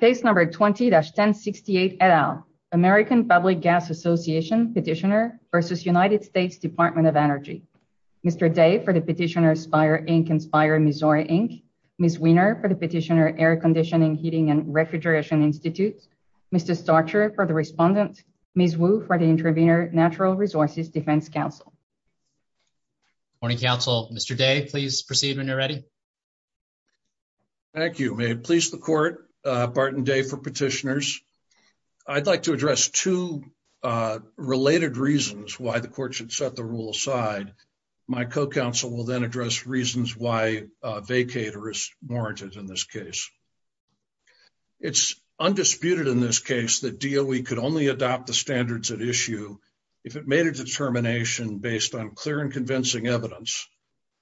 Page number 20-1068 et al. American Public Gas Association petitioner versus United States Department of Energy. Mr. Day for the petitioner Spire Inc. and Spire Missouri Inc. Ms. Wiener for the petitioner Air Conditioning, Heating and Refrigeration Institute. Mr. Starcher for the respondent. Ms. Wu for the intervener Natural Resources Defense Council. Morning, counsel. Mr. Day, please proceed when you're ready. Thank you. May it please the court, Bart and Day for petitioners. I'd like to address two related reasons why the court should set the rule aside. My co-counsel will then address reasons why vacate or is warranted in this case. It's undisputed in this case that DOE could only adopt the standards at issue if it made a determination based on clear and convincing evidence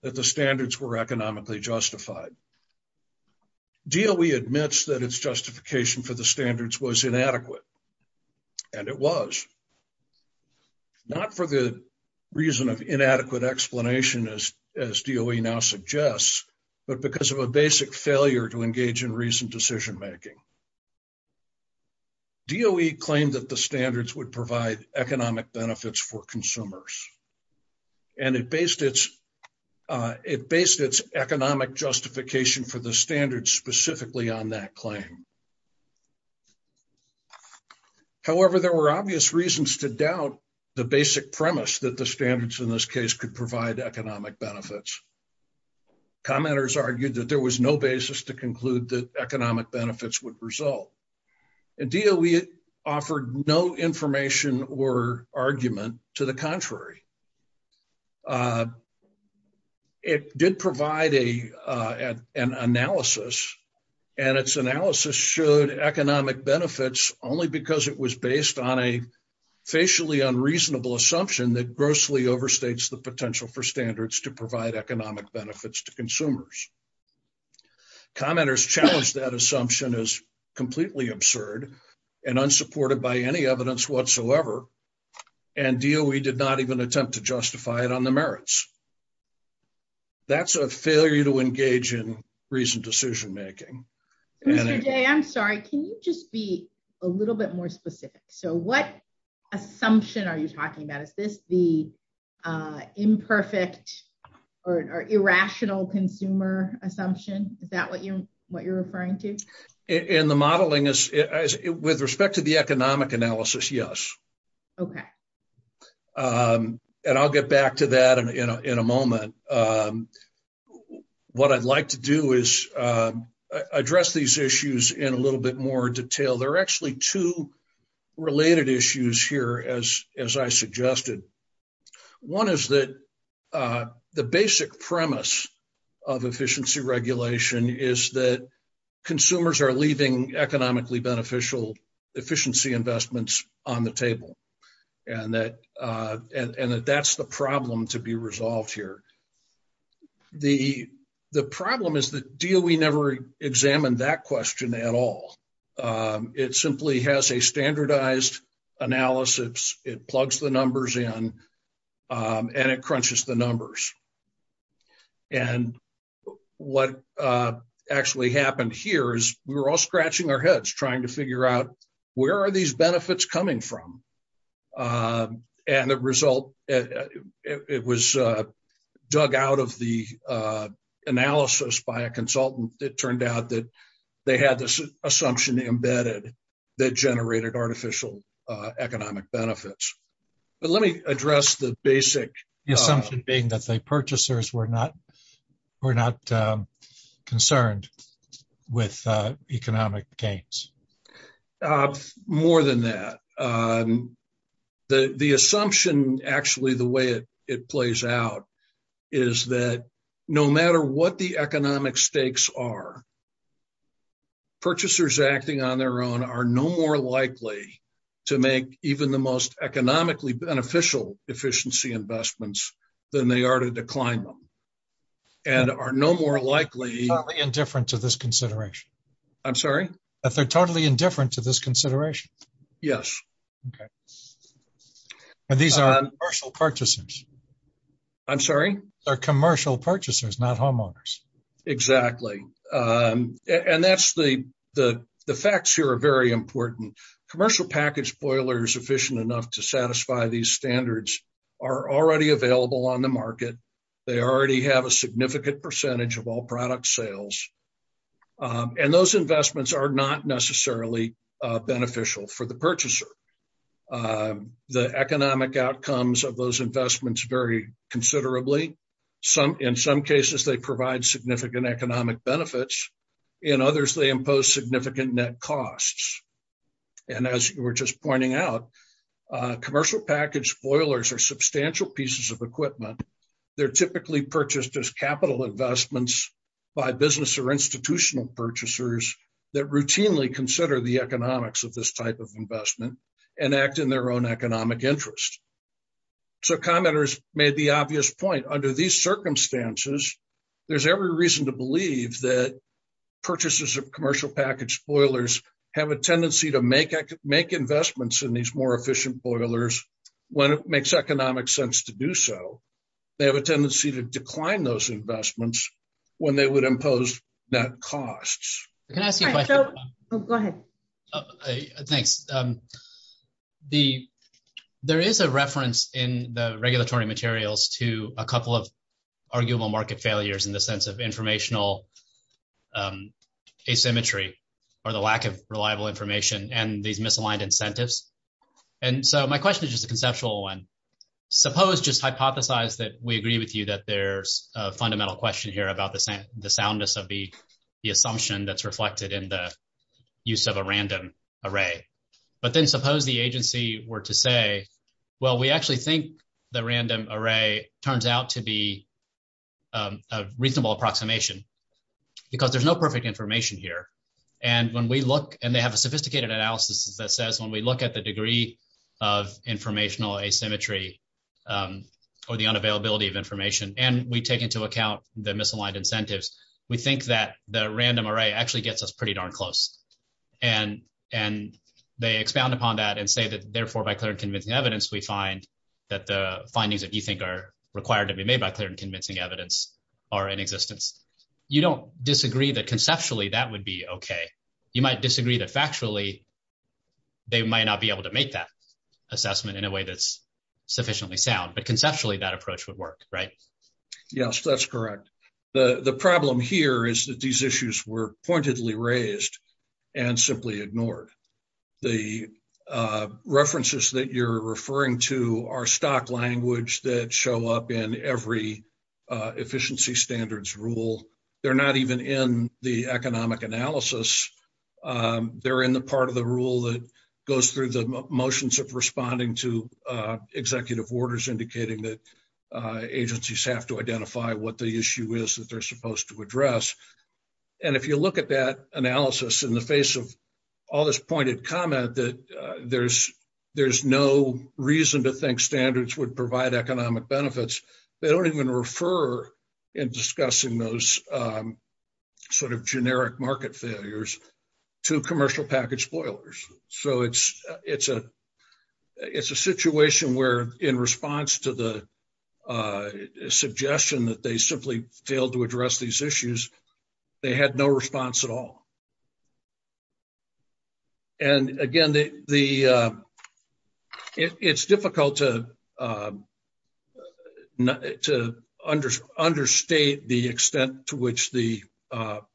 that the standards were economically justified. DOE admits that its justification for the standards was inadequate. And it was. Not for the reason of inadequate explanation, as DOE now suggests, but because of a basic failure to engage in recent decision making. DOE claimed that the standards would provide economic benefits for consumers. And it based its economic justification for the standards specifically on that claim. However, there were obvious reasons to doubt the basic premise that the standards in this case could provide economic benefits. Commenters argued that there was no basis to conclude that economic benefits would result. And DOE offered no information or argument to the contrary. It did provide an analysis, and its analysis showed economic benefits only because it was based on a facially unreasonable assumption that grossly overstates the potential for standards to provide economic benefits to consumers. Commenters challenged that assumption as completely absurd and unsupported by any evidence whatsoever. And DOE did not even attempt to justify it on the merits. That's a failure to engage in recent decision making. I'm sorry. Can you just be a little bit more specific? So what assumption are you talking about? Is this the imperfect or irrational consumer assumption? Is that what you're referring to? In the modeling, with respect to the economic analysis, yes. And I'll get back to that in a moment. What I'd like to do is address these issues in a little bit more detail. There are actually two related issues here, as I suggested. One is that the basic premise of efficiency regulation is that consumers are leaving economically beneficial efficiency investments on the table, and that that's the problem to be resolved here. The problem is that DOE never examined that question at all. It simply has a standardized analysis, it plugs the numbers in, and it crunches the numbers. And what actually happened here is we were all scratching our heads trying to figure out where are these benefits coming from? And the result, it was dug out of the analysis by a consultant. It turned out that they had this assumption embedded that generated artificial economic benefits. But let me address the basic... The assumption being that the purchasers were not concerned with economic gains. More than that. The assumption, actually, the way it plays out is that no matter what the economic stakes are, purchasers acting on their own are no more likely to make even the most economically beneficial efficiency investments than they are to decline them, and are no more likely... Not indifferent to this consideration. I'm sorry? That they're totally indifferent to this consideration. Yes. Okay. And these are commercial purchasers. I'm sorry? They're commercial purchasers, not homeowners. Exactly. And that's the... The facts here are very important. Commercial package boilers efficient enough to satisfy these standards are already available on the market. They already have a significant percentage of all product sales. And those investments are not necessarily beneficial for the purchaser. The economic outcomes of those investments vary considerably. In some cases, they provide significant economic benefits. In others, they impose significant net costs. And as we're just pointing out, commercial package boilers are substantial pieces of equipment. They're typically purchased as capital investments by business or institutional purchasers that routinely consider the economics of this type of investment and act in their own economic interest. So commenters made the obvious point. Under these circumstances, there's every reason to believe that purchases of commercial package boilers have a tendency to make investments in these more efficient boilers when it makes economic sense to do so. They have a tendency to decline those investments when they would impose net costs. Can I ask you a question? Go ahead. Thanks. There is a reference in the regulatory materials to a couple of arguable market failures in the sense of informational asymmetry or the lack of reliable information and these misaligned incentives. And so my question is just a conceptual one. Suppose, just hypothesize that we agree with you that there's a fundamental question here about the soundness of the assumption that's reflected in the use of a random array. But then suppose the agency were to say, well, we actually think the random array turns out to be a reasonable approximation because there's no perfect information here. And they have a sophisticated analysis that says when we look at the degree of informational asymmetry or the unavailability of information, and we take into account the misaligned incentives, we think that the random array actually gets us pretty darn close. And they expound upon that and say that, therefore, by clear and convincing evidence, we find that the findings that you think are required to be made by clear and convincing evidence are in existence. You don't disagree that conceptually that would be okay. You might disagree that factually they might not be able to make that assessment in a way that's sufficiently sound. But conceptually, that approach would work, right? Yes, that's correct. The problem here is that these issues were pointedly raised and simply ignored. The references that you're referring to are stock language that show up in every efficiency standards rule. They're not even in the economic analysis. They're in the part of the rule that goes through the motions of responding to executive orders indicating that agencies have to identify what the issue is that they're supposed to address. And if you look at that analysis in the face of all this pointed comment that there's no reason to think standards would provide economic benefits, they don't even refer in discussing those sort of generic market failures to commercial package spoilers. So it's a situation where in response to the suggestion that they simply failed to address these issues, they had no response at all. And again, it's difficult to understate the extent to which the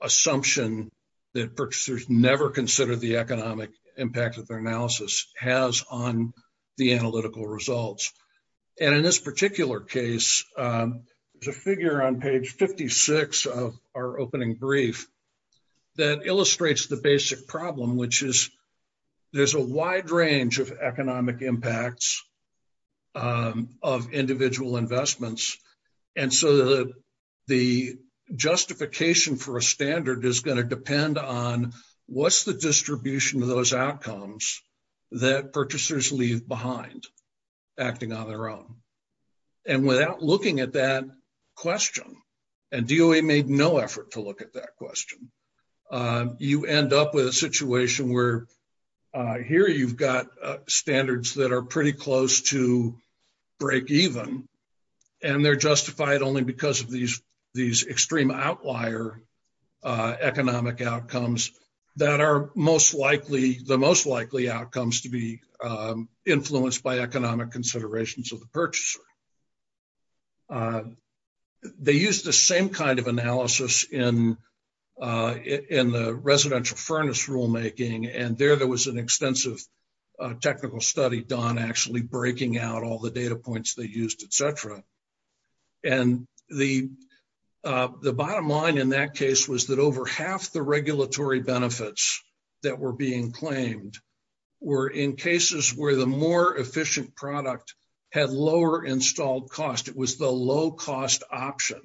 assumption that purchasers never considered the economic impact of their analysis has on the analytical results. And in this particular case, there's a figure on page 56 of our opening brief that illustrates the basic problem, which is there's a wide range of economic impacts of individual investments. And so the justification for a standard is going to depend on what's the distribution of those outcomes that purchasers leave behind acting on their own. And without looking at that question, and DOA made no effort to look at that question, you end up with a situation where here you've got standards that are pretty close to break even. And they're justified only because of these extreme outlier economic outcomes that are the most likely outcomes to be influenced by economic considerations of the purchaser. They used the same kind of analysis in the residential furnace rulemaking, and there there was an extensive technical study done actually breaking out all the data points they used, et cetera. And the bottom line in that case was that over half the regulatory benefits that were being claimed were in cases where the more efficient product had lower installed cost. It was the low-cost option.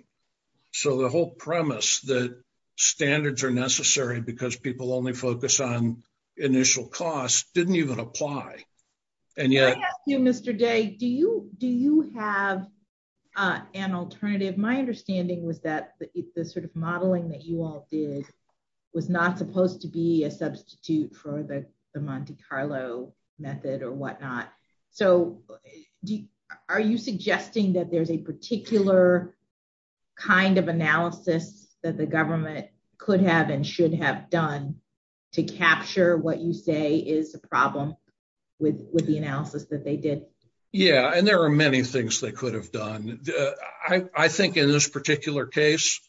So the whole premise that standards are necessary because people only focus on initial costs didn't even apply. I ask you, Mr. Day, do you have an alternative? My understanding was that the sort of modeling that you all did was not supposed to be a substitute for the Monte Carlo method or whatnot. So are you suggesting that there's a particular kind of analysis that the government could have and should have done to capture what you say is a problem with the analysis that they did? Yeah, and there are many things they could have done. I think in this particular case,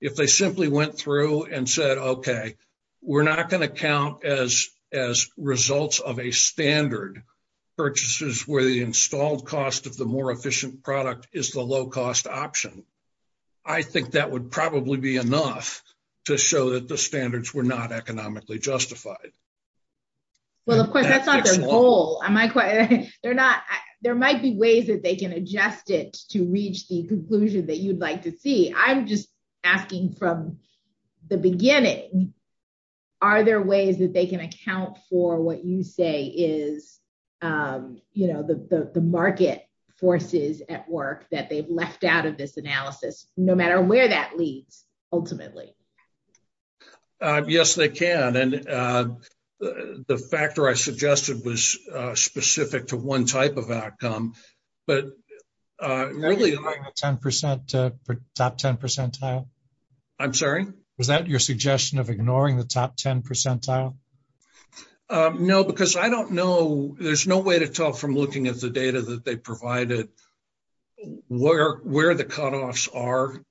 if they simply went through and said, okay, we're not going to count as results of a standard purchases where the installed cost of the more efficient product is the low-cost option. I think that would probably be enough to show that the standards were not economically justified. Well, of course, that's not the goal. There might be ways that they can adjust it to reach the conclusion that you'd like to see. I'm just asking from the beginning, are there ways that they can account for what you say is the market forces at work that they've left out of this analysis, no matter where that leads ultimately? Yes, they can. The factor I suggested was specific to one type of outcome, but really- Top 10 percentile? I'm sorry? Was that your suggestion of ignoring the top 10 percentile? No, because I don't know. There's no way to tell from looking at the data that they provided where the cutoffs are.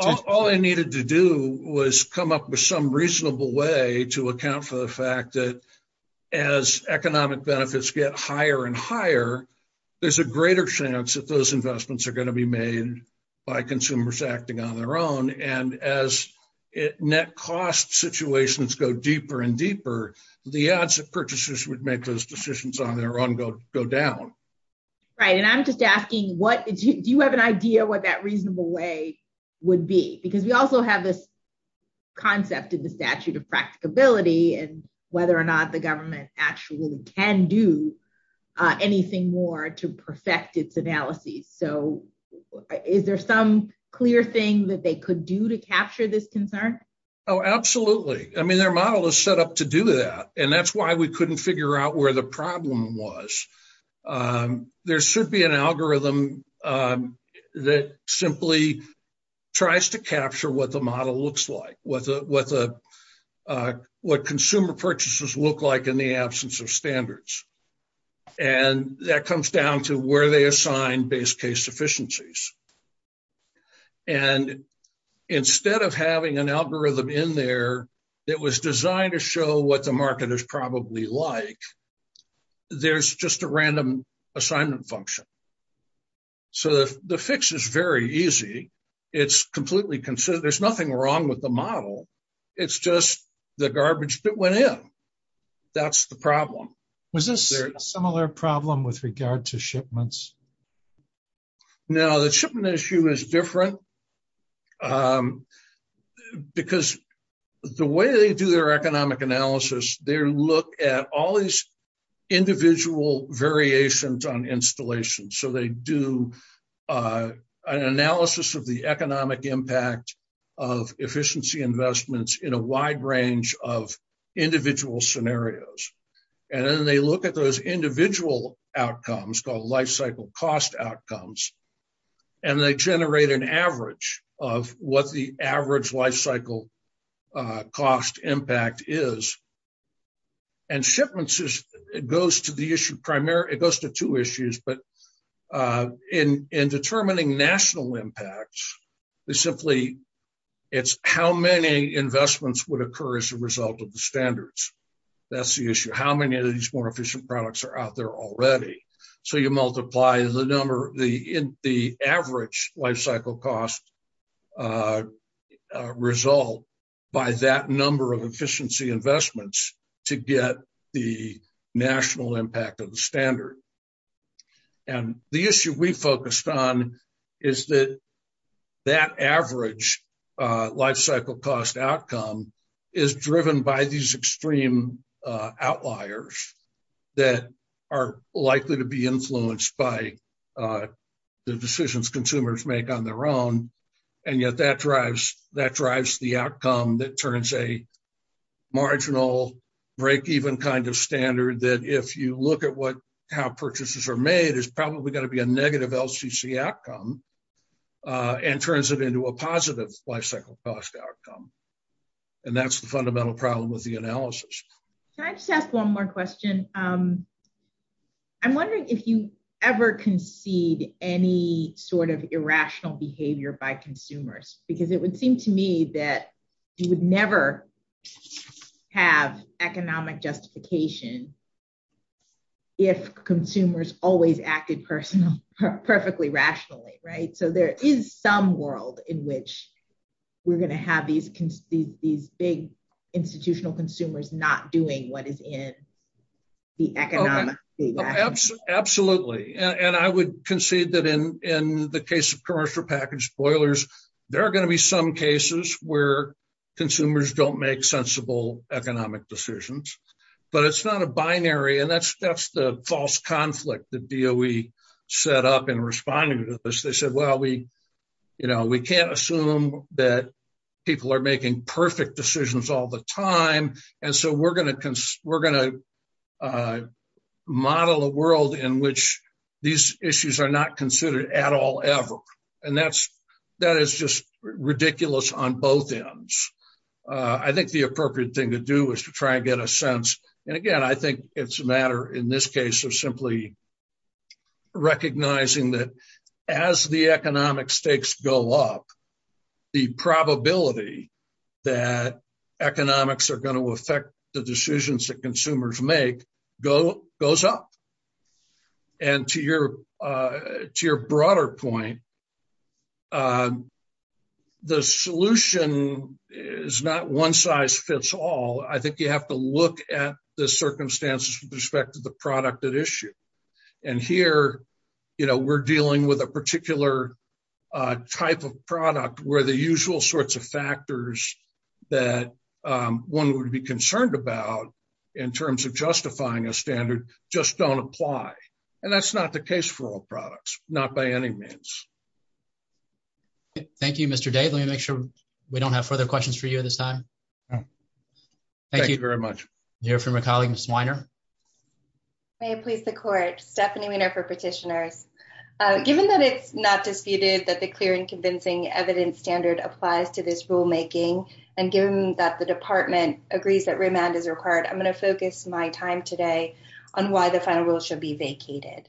All they needed to do was come up with some reasonable way to account for the fact that as economic benefits get higher and higher, there's a greater chance that those investments are going to be made by consumers acting on their own. And as net cost situations go deeper and deeper, the odds that purchasers would make those decisions on their own go down. Right, and I'm just asking, do you have an idea what that reasonable way would be? Because you also have this concept in the statute of practicability and whether or not the government actually can do anything more to perfect its analysis. So, is there some clear thing that they could do to capture this concern? Oh, absolutely. I mean, their model is set up to do that, and that's why we couldn't figure out where the problem was. There should be an algorithm that simply tries to capture what the model looks like, what consumer purchases look like in the absence of standards. And that comes down to where they assign base case deficiencies. And instead of having an algorithm in there that was designed to show what the market is probably like, there's just a random assignment function. So, the fix is very easy. There's nothing wrong with the model. It's just the garbage that went in. That's the problem. Was this a similar problem with regard to shipments? Now, the shipment issue is different because the way they do their economic analysis, they look at all these individual variations on installation. So, they do an analysis of the economic impact of efficiency investments in a wide range of individual scenarios. And then they look at those individual outcomes called life cycle cost outcomes, and they generate an average of what the average life cycle cost impact is. And shipments goes to two issues, but in determining national impacts, it's simply how many investments would occur as a result of the standards. That's the issue. How many of these more efficient products are out there already? So, you multiply the average life cycle cost result by that number of efficiency investments to get the national impact of the standard. And the issue we focused on is that that average life cycle cost outcome is driven by these extreme outliers that are likely to be influenced by the decisions consumers make on their own. And yet, that drives the outcome that turns a marginal break-even kind of standard that if you look at how purchases are made, it's probably going to be a negative LCC outcome and turns it into a positive life cycle cost outcome. And that's the fundamental problem with the analysis. Can I just ask one more question? I'm wondering if you ever concede any sort of irrational behavior by consumers, because it would seem to me that you would never have economic justification if consumers always acted perfectly rationally, right? So, there is some world in which we're going to have these big institutional consumers not doing what is in the economic feedback. Absolutely. And I would concede that in the case of commercial package spoilers, there are going to be some cases where consumers don't make sensible economic decisions. But it's not a binary, and that's the false conflict that DOE set up in responding to this. They said, well, we can't assume that people are making perfect decisions all the time, and so we're going to model a world in which these issues are not considered at all, ever. And that is just ridiculous on both ends. I think the appropriate thing to do is to try and get a sense. And again, I think it's a matter in this case of simply recognizing that as the economic stakes go up, the probability that economics are going to affect the decisions that consumers make goes up. And to your broader point, the solution is not one size fits all. I think you have to look at the circumstances with respect to the product at issue. And here, we're dealing with a particular type of product where the usual sorts of factors that one would be concerned about in terms of justifying a standard just don't apply. And that's not the case for all products, not by any means. Thank you, Mr. Day. Let me make sure we don't have further questions for you at this time. Thank you very much. Do you have a comment, Ms. Weiner? May it please the Court. Stephanie Weiner for Petitioners. Given that it's not disputed that the clear and convincing evidence standard applies to this rulemaking, and given that the Department agrees that remand is required, I'm going to focus my time today on why the final rule should be vacated.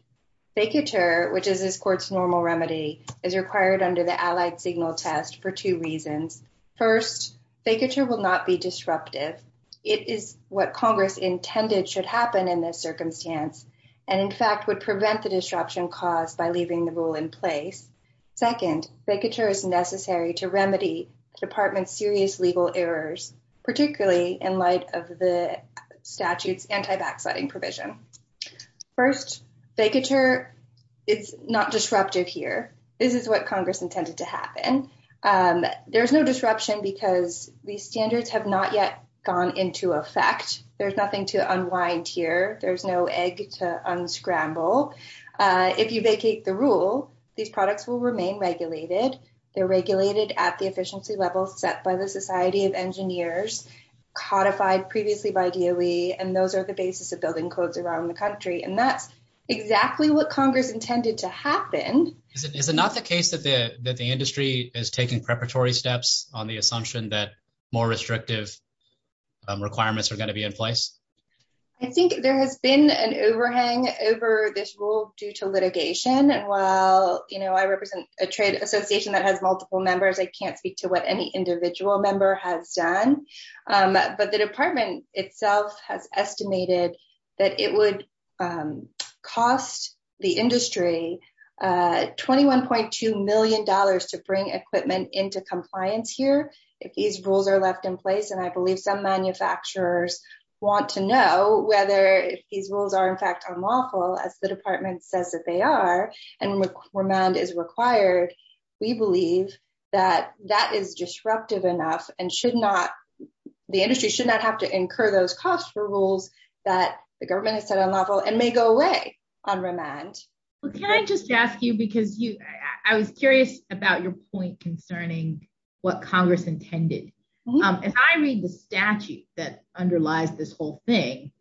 Vacatur, which is this Court's normal remedy, is required under the Allied Signal Test for two reasons. First, vacatur will not be disruptive. It is what Congress intended should happen in this circumstance, and in fact would prevent the disruption caused by leaving the rule in place. Second, vacatur is necessary to remedy the Department's serious legal errors, particularly in light of the statute's anti-backsliding provision. First, vacatur is not disruptive here. There's no disruption because these standards have not yet gone into effect. There's nothing to unwind here. There's no egg to unscramble. If you vacate the rule, these products will remain regulated. They're regulated at the efficiency level set by the Society of Engineers, codified previously by DOE, and those are the basis of building codes around the country. And that's exactly what Congress intended to happen. Is it not the case that the industry is taking preparatory steps on the assumption that more restrictive requirements are going to be in place? I think there has been an overhang over this rule due to litigation. And while, you know, I represent a trade association that has multiple members, I can't speak to what any individual member has done. But the Department itself has estimated that it would cost the industry $21.2 million to bring equipment into compliance here. If these rules are left in place, and I believe some manufacturers want to know whether these rules are in fact unlawful, as the Department says that they are, and remand is required, we believe that that is disruptive enough and the industry should not have to incur those costs for rules that the government has said are unlawful and may go away on remand. Can I just ask you, because I was curious about your point concerning what Congress intended. If I read the statute that underlies this whole thing,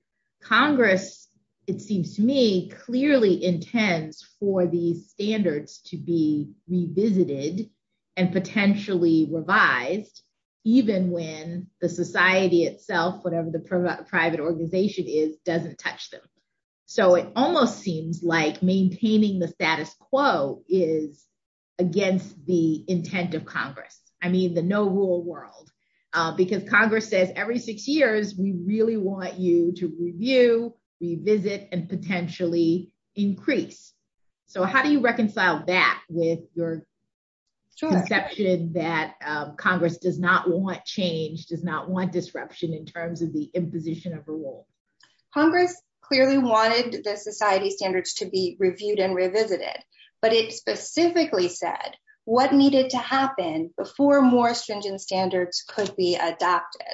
Congress, it seems to me, clearly intends for these standards to be revisited and potentially revised, even when the society itself, whatever the private organization is, doesn't touch them. So it almost seems like maintaining the status quo is against the intent of Congress. I mean, the no-rule world. Because Congress says every six years, we really want you to review, revisit, and potentially increase. So how do you reconcile that with your conception that Congress does not want change, does not want disruption in terms of the imposition of a rule? Congress clearly wanted the society standards to be reviewed and revisited, but it specifically said what needed to happen before more stringent standards could be adopted.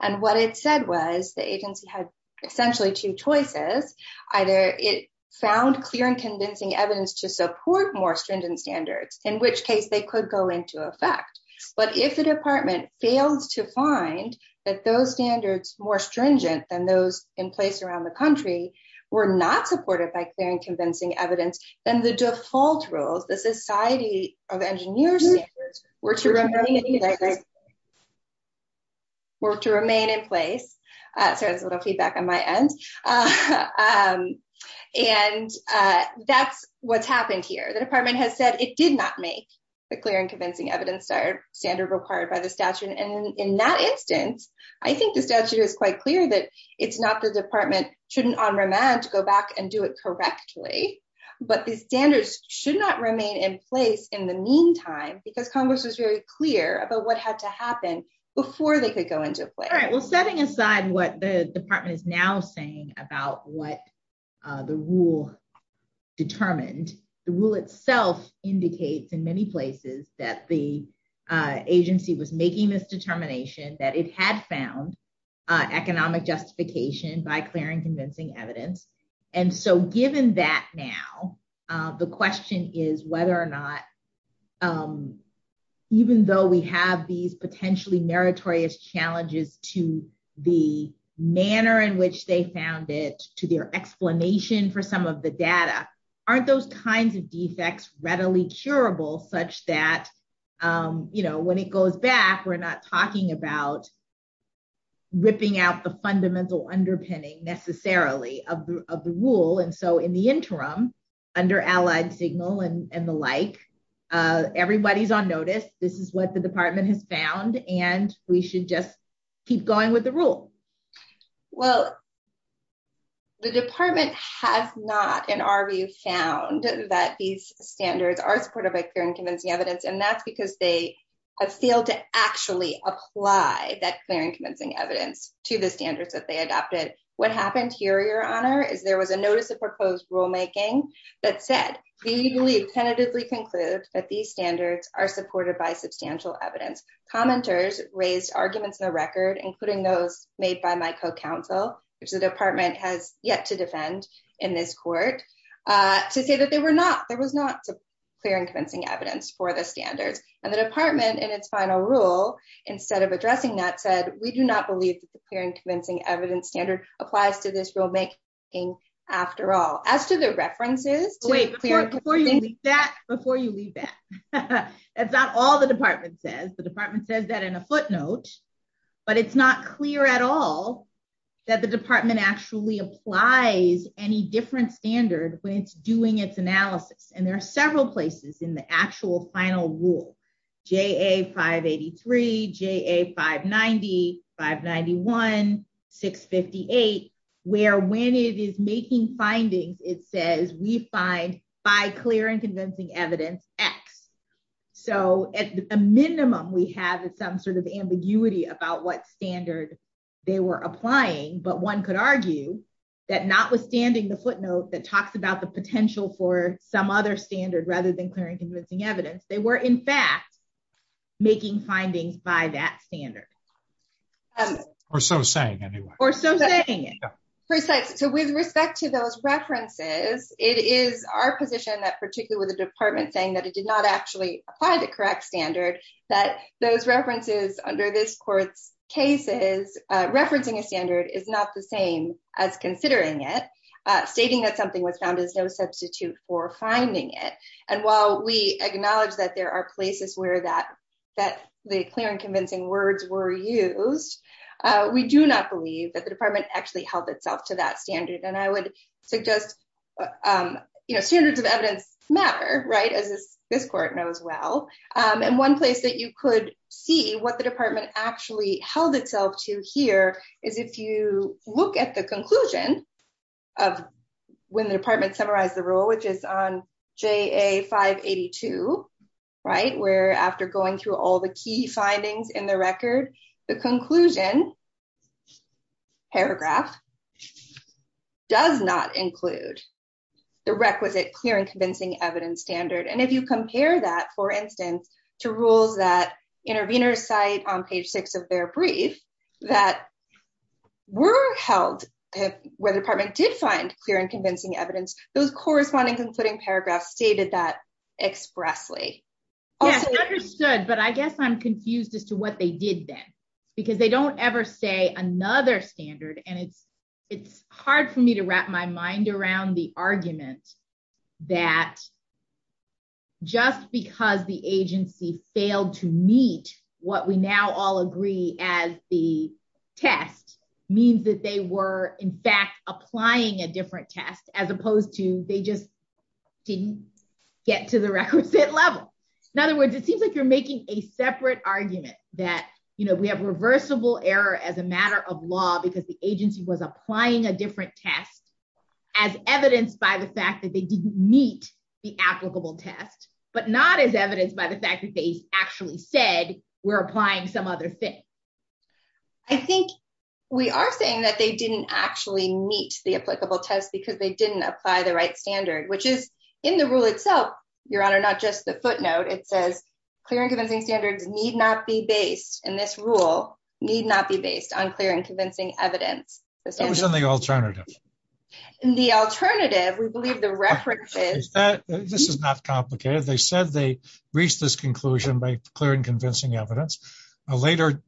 And what it said was the agency had essentially two choices. Either it found clear and convincing evidence to support more stringent standards, in which case they could go into effect. But if the department failed to find that those standards more stringent than those in place around the country were not supported by clear and convincing evidence, then the default rules, the Society of Engineers, were to remain in place. Sorry, there's a little feedback on my end. And that's what's happened here. The department has said it did not make the clear and convincing evidence standard required by the statute. And in that instance, I think the statute is quite clear that it's not the department's turn on remand to go back and do it correctly. But the standards should not remain in place in the meantime, because Congress was very clear about what had to happen before they could go into effect. All right, well, setting aside what the department is now saying about what the rule determined, the rule itself indicates in many places that the agency was making this determination that it had found economic justification by clear and convincing evidence. And so given that now, the question is whether or not, even though we have these potentially meritorious challenges to the manner in which they found it, to their explanation for some of the data, aren't those kinds of defects readily curable, such that, you know, when it goes back, we're not talking about ripping out the fundamental underpinning, necessarily, of the rule, and so in the interim, under allied signal and the like, everybody's on notice, this is what the department has found, and we should just keep going with the rule. Well, the department has not, in our view, found that these standards are supportive of clear and convincing evidence, and that's because they have failed to actually apply that clear and convincing evidence to the standards that they adopted. What happened here, Your Honor, is there was a notice of proposed rulemaking that said, we believe tentatively conclude that these standards are supported by substantial evidence. Commenters raised arguments in the record, including those made by my co-counsel, which the department has yet to defend in this court, to say that there was not clear and convincing evidence for the standards. And the department, in its final rule, instead of addressing that, said, we do not believe that the clear and convincing evidence standard applies to this rulemaking after all. As to the references… Wait, before you leave that, that's not all the department says. The department says that in a footnote, but it's not clear at all that the department actually applies any different standard when it's doing its analysis. And there are several places in the actual final rule, JA583, JA590, 591, 658, where when it is making findings, it says, we find by clear and convincing evidence, X. So, at a minimum, we have some sort of ambiguity about what standard they were applying, but one could argue that notwithstanding the footnote that talks about the potential for some other standard rather than clear and convincing evidence, they were, in fact, making findings by that standard. Or so saying, anyway. Or so saying. So, with respect to those references, it is our position that, particularly with the department saying that it did not actually apply the correct standard, that those references under this court's cases, referencing a standard is not the same as considering it. Stating that something was found is no substitute for finding it. And while we acknowledge that there are places where the clear and convincing words were used, we do not believe that the department actually held itself to that standard. And I would suggest, you know, standards of evidence matter, right, as this court knows well. And one place that you could see what the department actually held itself to here is if you look at the conclusion of when the department summarized the rule, which is on JA582, right, where after going through all the key findings in the record, the conclusion paragraph does not include the requisite clear and convincing evidence standard. And if you compare that, for instance, to rules that intervenors cite on page 6 of their brief that were held where the department did find clear and convincing evidence, those corresponding concluding paragraphs stated that expressly. Yes, understood. But I guess I'm confused as to what they did then. Because they don't ever say another standard. And it's hard for me to wrap my mind around the argument that just because the agency failed to meet what we now all agree as the test means that they were, in fact, applying a different test as opposed to they just didn't get to the requisite level. In other words, it seems like you're making a separate argument that, you know, we have reversible error as a matter of law because the agency was applying a different test as evidenced by the fact that they didn't meet the applicable test, but not as evidenced by the fact that they actually said we're applying some other thing. I think we are saying that they didn't actually meet the applicable test because they didn't apply the right standard, which is in the rule itself. Your Honor, not just the footnote. It says clear and convincing standards need not be based. And this rule need not be based on clear and convincing evidence. In the alternative, we believe the reference is that this is not complicated. They said they reached this conclusion by clear and convincing evidence. A later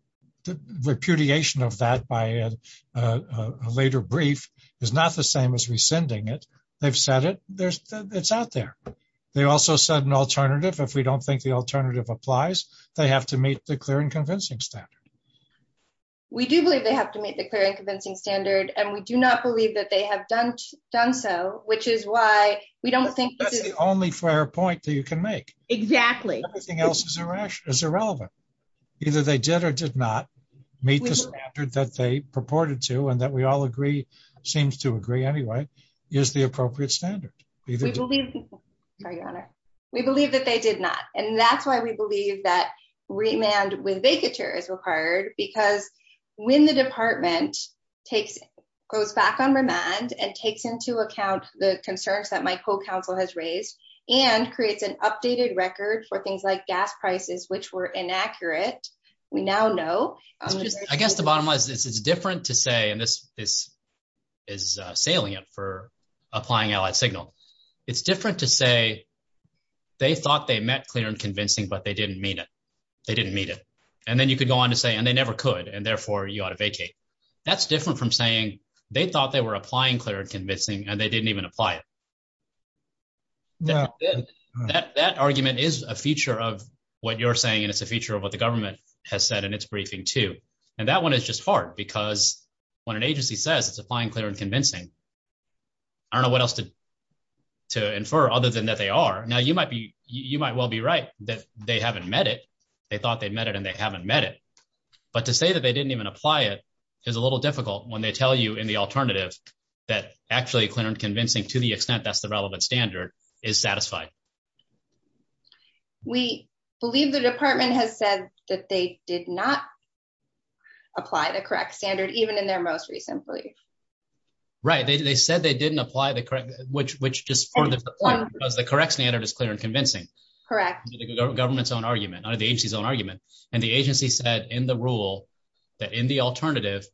repudiation of that by a later brief is not the same as rescinding it. They've said it. It's out there. They also said an alternative. If we don't think the alternative applies, they have to meet the clear and convincing standard. We do believe they have to meet the clear and convincing standard. And we do not believe that they have done so, which is why we don't think The only fair point that you can make. Exactly. Everything else is irrelevant. Either they did or did not meet the standard that they purported to and that we all agree, seems to agree anyway, is the appropriate standard. We believe that they did not. And that's why we believe that remand with vacatures is required because when the department goes back on remand and takes into account the concerns that my co-counsel has raised and creates an updated record for things like gas prices, which were inaccurate, we now know. I guess the bottom line is it's different to say, and this is salient for applying out a signal. It's different to say they thought they met clear and convincing, but they didn't meet it. They didn't meet it. And then you could go on to say, and they never could. And therefore you ought to vacate. That's different from saying they thought they were applying clear and convincing and they didn't even apply it. That argument is a feature of what you're saying, and it's a feature of what the government has said in its briefing too. And that one is just hard because when an agency says it's applying clear and convincing, I don't know what else to infer other than that they are. Now, you might be you might well be right that they haven't met it. They thought they met it and they haven't met it. But to say that they didn't even apply it is a little difficult when they tell you in the alternative that actually clear and convincing to the extent that's the relevant standard is satisfied. We believe the department has said that they did not apply the correct standard, even in their most recent brief. Right, they said they didn't apply the correct, which, which just the correct standard is clear and convincing correct government's own argument on the agency's own argument. And the agency said in the rule that in the alternative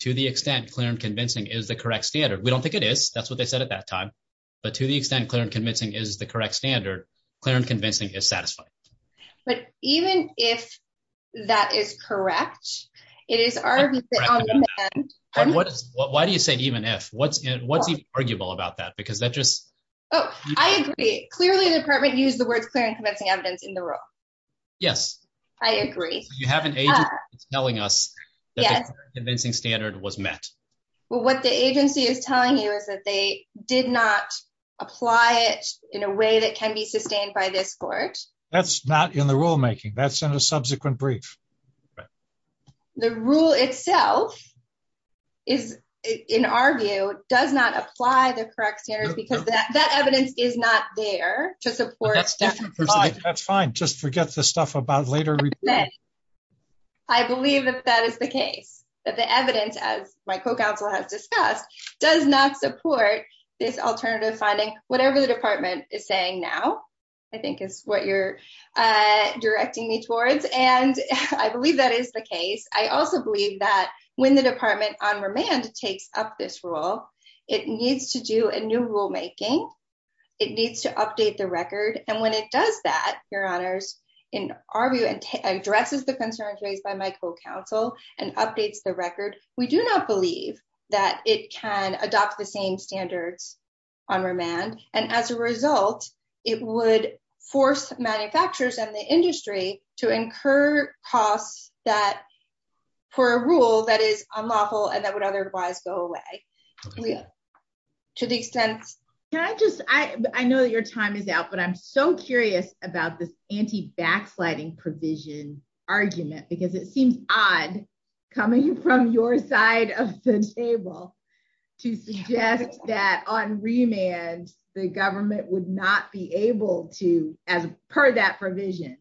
to the extent clear and convincing is the correct standard. We don't think it is. That's what they said at that time. But to the extent clear and convincing is the correct standard clear and convincing is satisfied. But even if that is correct, it is. Why do you say, even if what's what's arguable about that? Because that just. Oh, I agree. Clearly, the department used the word in the room. Yes, I agree. You haven't telling us anything standard was met. Well, what the agency is telling you is that they did not apply it in a way that can be sustained by this court. That's not in the rulemaking. That's in a subsequent brief. The rule itself is, in our view, does not apply the correct here because that evidence is not there to support. That's fine. Just forget the stuff about later. I believe that that is the case that the evidence as my co-counsel has discussed does not support this alternative funding, whatever the department is saying now, I think, is what you're Directing me towards. And I believe that is the case. I also believe that when the department on remand takes up this role, it needs to do a new rulemaking. It needs to update the record. And when it does that, Your Honors, in our view, addresses the concerns raised by my co-counsel and updates the record, we do not believe that it can adopt the same standards On remand. And as a result, it would force manufacturers and the industry to incur costs that for a rule that is unlawful and that would otherwise go away. To the extent Can I just, I know your time is out, but I'm so curious about this anti-backsliding provision argument because it seems odd coming from your side of the table to suggest that on remand, the government would not be able to, per that provision,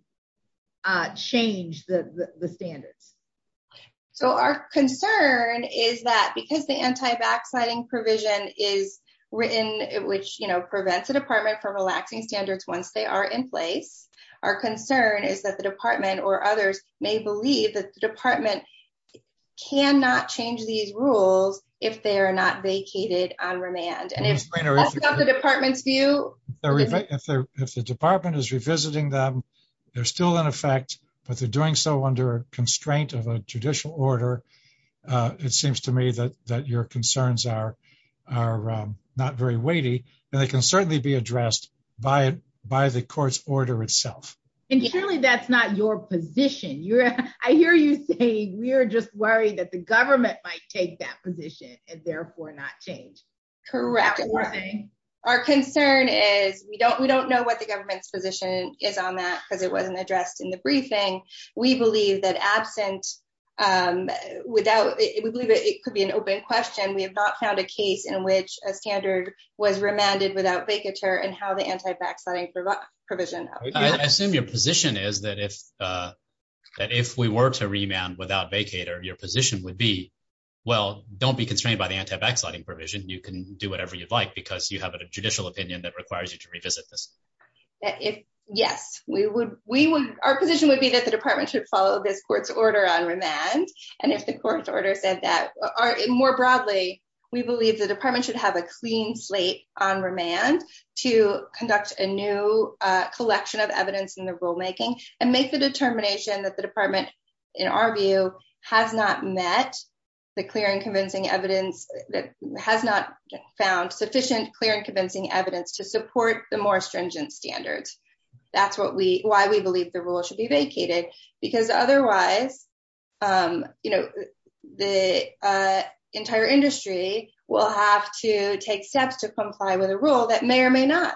Change the standards. So our concern is that because the anti-backsliding provision is written, which, you know, prevents the department from relaxing standards once they are in place. Our concern is that the department or others may believe that the department cannot change these rules if they are not vacated on remand. If the department is revisiting them, they're still in effect, but they're doing so under a constraint of a judicial order. It seems to me that your concerns are not very weighty and they can certainly be addressed by the court's order itself. And surely that's not your position. I hear you say we're just worried that the government might take that position and therefore not change. Correct. Our concern is we don't know what the government's position is on that because it wasn't addressed in the briefing. We believe that absent Without it could be an open question. We have not found a case in which a standard was remanded without vacature and how the anti-backsliding provision. I assume your position is that if we were to remand without vacator, your position would be, well, don't be constrained by the anti-backsliding provision. You can do whatever you'd like because you have a judicial opinion that requires you to revisit this. Yes, we would. Our position would be that the department should follow this court's order on remand and if the court's order says that. More broadly, we believe the department should have a clean slate on remand to conduct a new collection of evidence in the rulemaking and make the determination that the department, in our view, has not met The clear and convincing evidence that has not found sufficient clear and convincing evidence to support the more stringent standards. That's what we, why we believe the rule should be vacated because otherwise You know the entire industry will have to take steps to comply with a rule that may or may not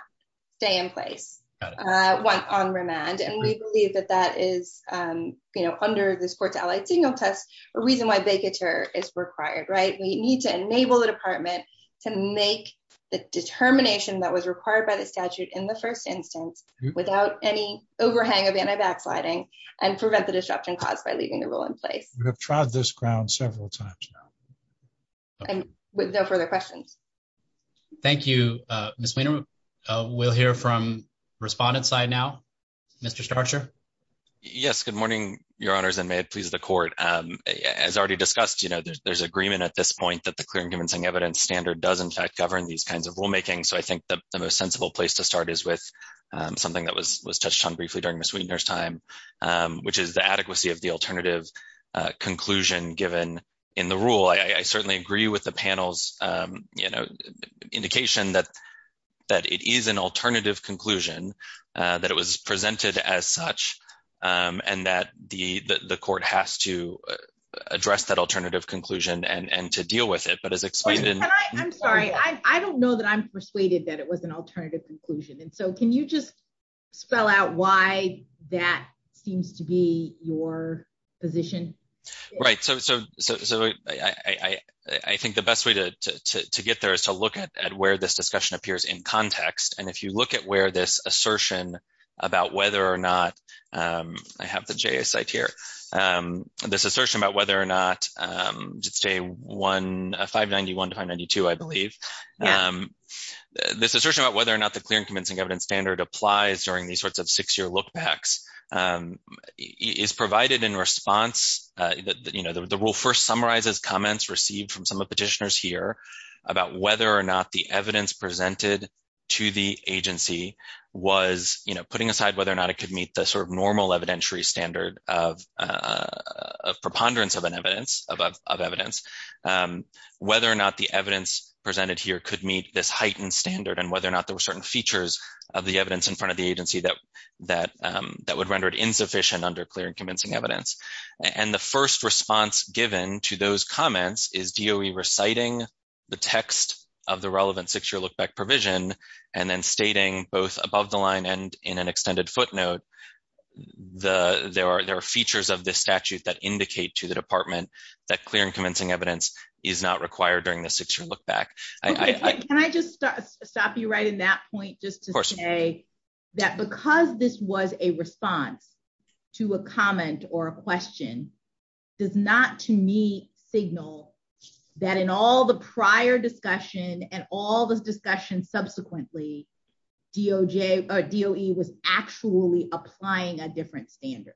stay in place. Once on remand and we believe that that is, you know, under this court's allied signal test, a reason why vacature is required. Right. We need to enable the department to make The determination that was required by the statute in the first instance without any overhang of anti-backsliding and prevent the disruption caused by leaving the rule in place. We have tried this ground several times now. And with no further questions. Thank you, Ms. Wiener. We'll hear from respondents side now. Mr. Starcher. Yes. Good morning, Your Honors, and may it please the court. As already discussed, you know, there's agreement at this point that the clear and convincing evidence standard does in fact govern these kinds of rulemaking. So I think the most sensible place to start is with Something that was touched on briefly during Ms. Wiener's time, which is the adequacy of the alternative conclusion given in the rule. I certainly agree with the panel's, you know, indication that That it is an alternative conclusion that it was presented as such, and that the court has to address that alternative conclusion and to deal with it, but as explained I'm sorry, I don't know that I'm persuaded that it was an alternative conclusion. And so can you just spell out why that seems to be your position. Right, so I think the best way to get there is to look at where this discussion appears in context. And if you look at where this assertion about whether or not I have the JS site here. This assertion about whether or not just say 591-592, I believe. This assertion about whether or not the clear and convincing evidence standard applies during these sorts of six year look backs Is provided in response that, you know, the rule first summarizes comments received from some of the petitioners here. About whether or not the evidence presented to the agency was, you know, putting aside whether or not it could meet the sort of normal evidentiary standard of preponderance of an evidence of evidence. Whether or not the evidence presented here could meet this heightened standard and whether or not there were certain features of the evidence in front of the agency that That would render it insufficient under clear and convincing evidence. And the first response given to those comments is DOE reciting The text of the relevant six year look back provision and then stating both above the line and in an extended footnote There are features of this statute that indicate to the department that clear and convincing evidence is not required during the six year look back. Can I just stop you right in that point just to say that because this was a response to a comment or a question Does not, to me, signal that in all the prior discussion and all the discussion subsequently DOE was actually applying a different standard.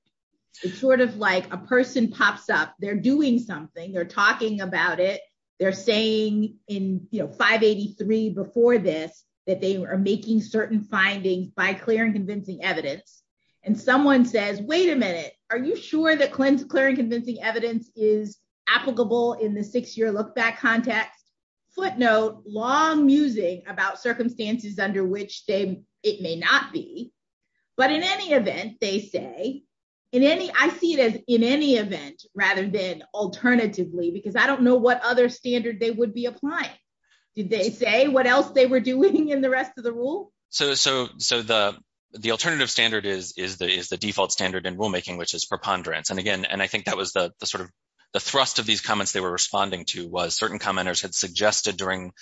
It's sort of like a person pops up. They're doing something. They're talking about it. They're saying in, you know, 583 before this that they are making certain findings by clear and convincing evidence. And someone says, wait a minute. Are you sure that clear and convincing evidence is applicable in the six year look back context? Footnote, long musing about circumstances under which it may not be. But in any event, they say I see it as in any event, rather than alternatively because I don't know what other standard they would be applying. Did they say what else they were doing in the rest of the rule? So the alternative standard is the default standard in rulemaking, which is preponderance. And again, and I think that was the sort of The thrust of these comments. They were responding to was certain commenters had suggested during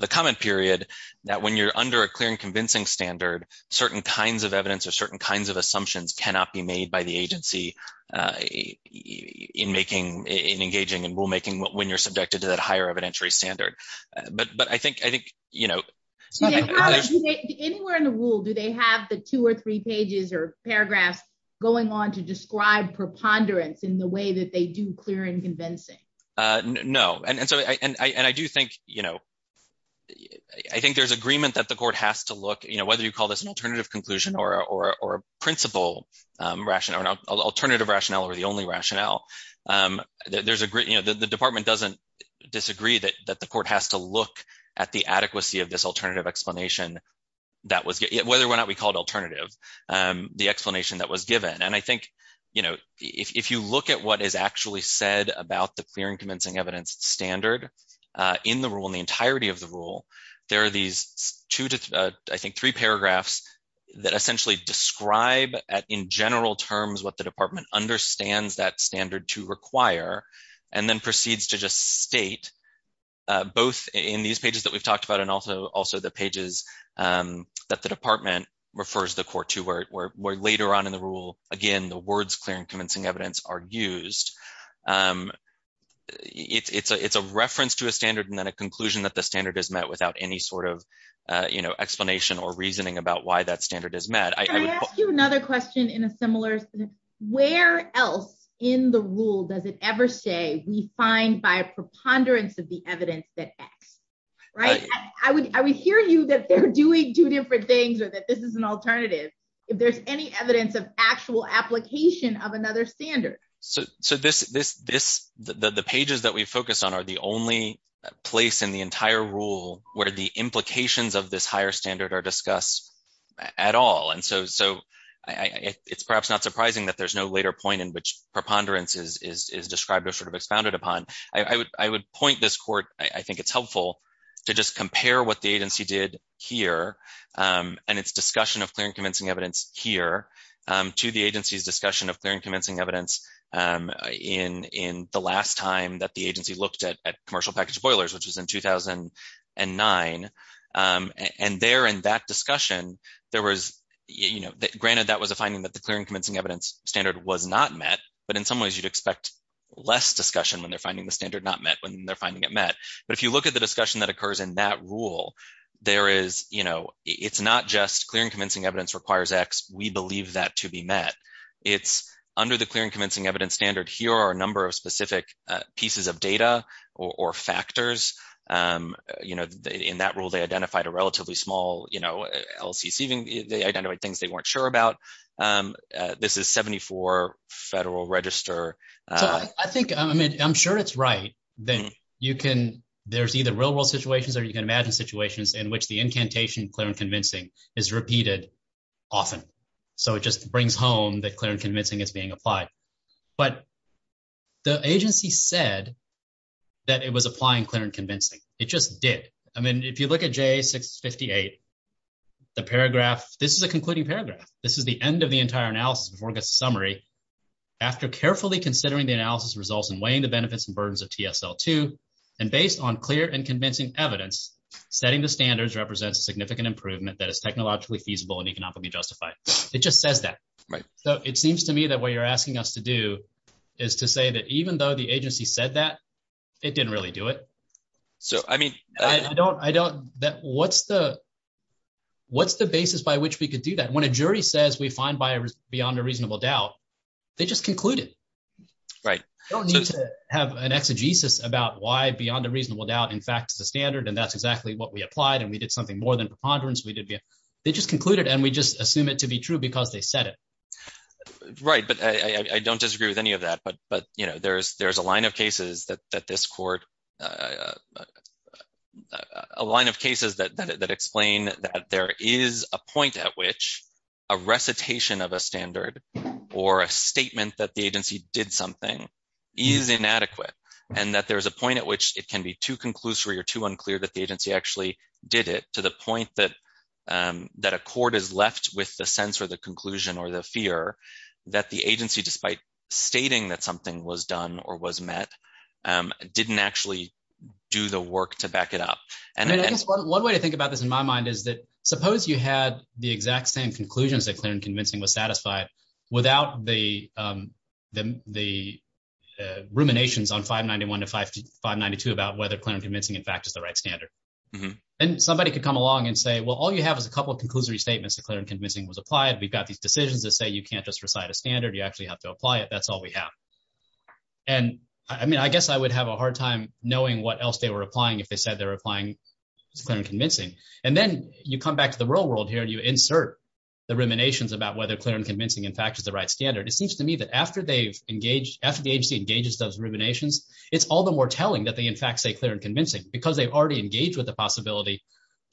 the comment period. That when you're under a clear and convincing standard certain kinds of evidence or certain kinds of assumptions cannot be made by the agency. In engaging in rulemaking when you're subjected to that higher evidentiary standard, but I think, you know, Anywhere in the rule. Do they have the two or three pages or paragraph going on to describe preponderance in the way that they do clear and convincing No. And so I do think, you know, I think there's agreement that the court has to look, you know, whether you call this an alternative conclusion or principle rationale alternative rationale or the only rationale. There's a great, you know, the department doesn't disagree that that the court has to look at the adequacy of this alternative explanation. That was it, whether or not we call it alternative the explanation that was given. And I think, you know, if you look at what is actually said about the clear and convincing evidence standard. In the rule in the entirety of the rule. There are these two, I think, three paragraphs that essentially describe in general terms what the department understands that standard to require and then proceeds to just state. Both in these pages that we've talked about. And also, also the pages. That the department refers the court to where later on in the rule. Again, the words clear and convincing evidence are used. It's a reference to a standard and then a conclusion that the standard is met without any sort of, you know, explanation or reasoning about why that standard is met. Another question in a similar where else in the rule. Does it ever say we find by preponderance of the evidence that Right, I would, I would hear you that they're doing two different things or that this is an alternative if there's any evidence of actual application of another standard. So, so this, this, this, the pages that we focus on are the only place in the entire rule where the implications of this higher standard are discussed. At all. And so, so I it's perhaps not surprising that there's no later point in which preponderance is described as sort of expounded upon, I would, I would point this court. I think it's helpful. To just compare what the agency did here and its discussion of clearing convincing evidence here to the agency's discussion of clearing convincing evidence. In in the last time that the agency looked at commercial package of boilers, which is in 2009 And there in that discussion, there was, you know, granted that was a finding that the clearing convincing evidence standard was not met, but in some ways, you'd expect Less discussion when they're finding the standard not met when they're finding it met. But if you look at the discussion that occurs in that rule. There is, you know, it's not just clearing convincing evidence requires X, we believe that to be met. It's under the clearing convincing evidence standard here are a number of specific pieces of data or factors. You know, in that rule, they identified a relatively small, you know, LCC, they identified things they weren't sure about. This is 74 Federal Register. I think I'm sure it's right. Then you can, there's either real world situations or you can imagine situations in which the incantation clearing convincing is repeated often. So it just brings home that clearing convincing is being applied, but the agency said that it was applying clearing convincing. It just did. I mean, if you look at J658 The paragraph, this is a concluding paragraph. This is the end of the entire analysis summary. After carefully considering the analysis results and weighing the benefits and burdens of TSL 2 and based on clear and convincing evidence. Setting the standards represents significant improvement that is technologically feasible and economically justified. It just says that. Right. So it seems to me that what you're asking us to do is to say that even though the agency said that it didn't really do it. So, I mean, I don't, I don't know what's the What's the basis by which we could do that when a jury says we find bias beyond a reasonable doubt. They just concluded. Right. Don't need to have an exegesis about why beyond a reasonable doubt. In fact, the standard and that's exactly what we applied and we did something more than preponderance. We did. They just concluded and we just assume it to be true because they said it. Right, but I don't disagree with any of that. But, but, you know, there's there's a line of cases that this court. A line of cases that explain that there is a point at which a recitation of a standard or a statement that the agency did something Is inadequate and that there's a point at which it can be too conclusory or too unclear that the agency actually did it to the point that That a court is left with the sense or the conclusion or the fear that the agency, despite stating that something was done or was met didn't actually do the work to back it up. One way to think about this, in my mind, is that suppose you had the exact same conclusions that clear and convincing was satisfied without the The ruminations on 591 to 592 about whether clear and convincing in fact is the right standard. And somebody could come along and say, well, all you have is a couple of conclusory statements that clear and convincing was applied. We've got these decisions that say you can't just recite a standard. You actually have to apply it. That's all we have. And I mean, I guess I would have a hard time knowing what else they were applying if they said they were applying clear and convincing. And then you come back to the real world here and you insert The ruminations about whether clear and convincing in fact is the right standard. It seems to me that after the agency engages those ruminations, it's all the more telling that they in fact say clear and convincing because they've already engaged with the possibility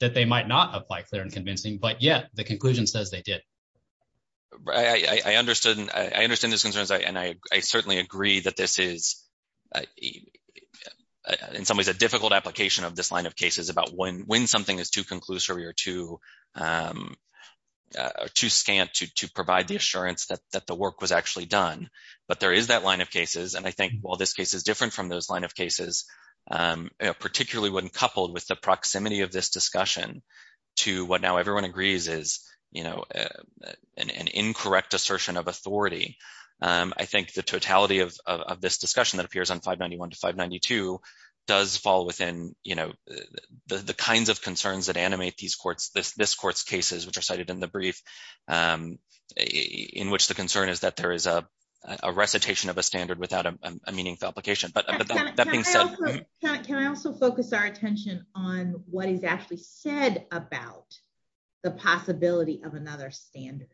That they might not apply clear and convincing, but yet the conclusion says they did. I understood. I understand this concerns and I certainly agree that this is In some ways, a difficult application of this line of cases about when when something is too conclusory or too Too scant to provide the assurance that the work was actually done, but there is that line of cases. And I think, well, this case is different from those line of cases. Particularly when coupled with the proximity of this discussion to what now everyone agrees is, you know, an incorrect assertion of authority. I think the totality of this discussion that appears on 591 to 592 does fall within, you know, the kinds of concerns that animate these courts, this court's cases which are cited in the brief In which the concern is that there is a recitation of a standard without a meaningful application, but Can I also focus our attention on what is actually said about the possibility of another standard.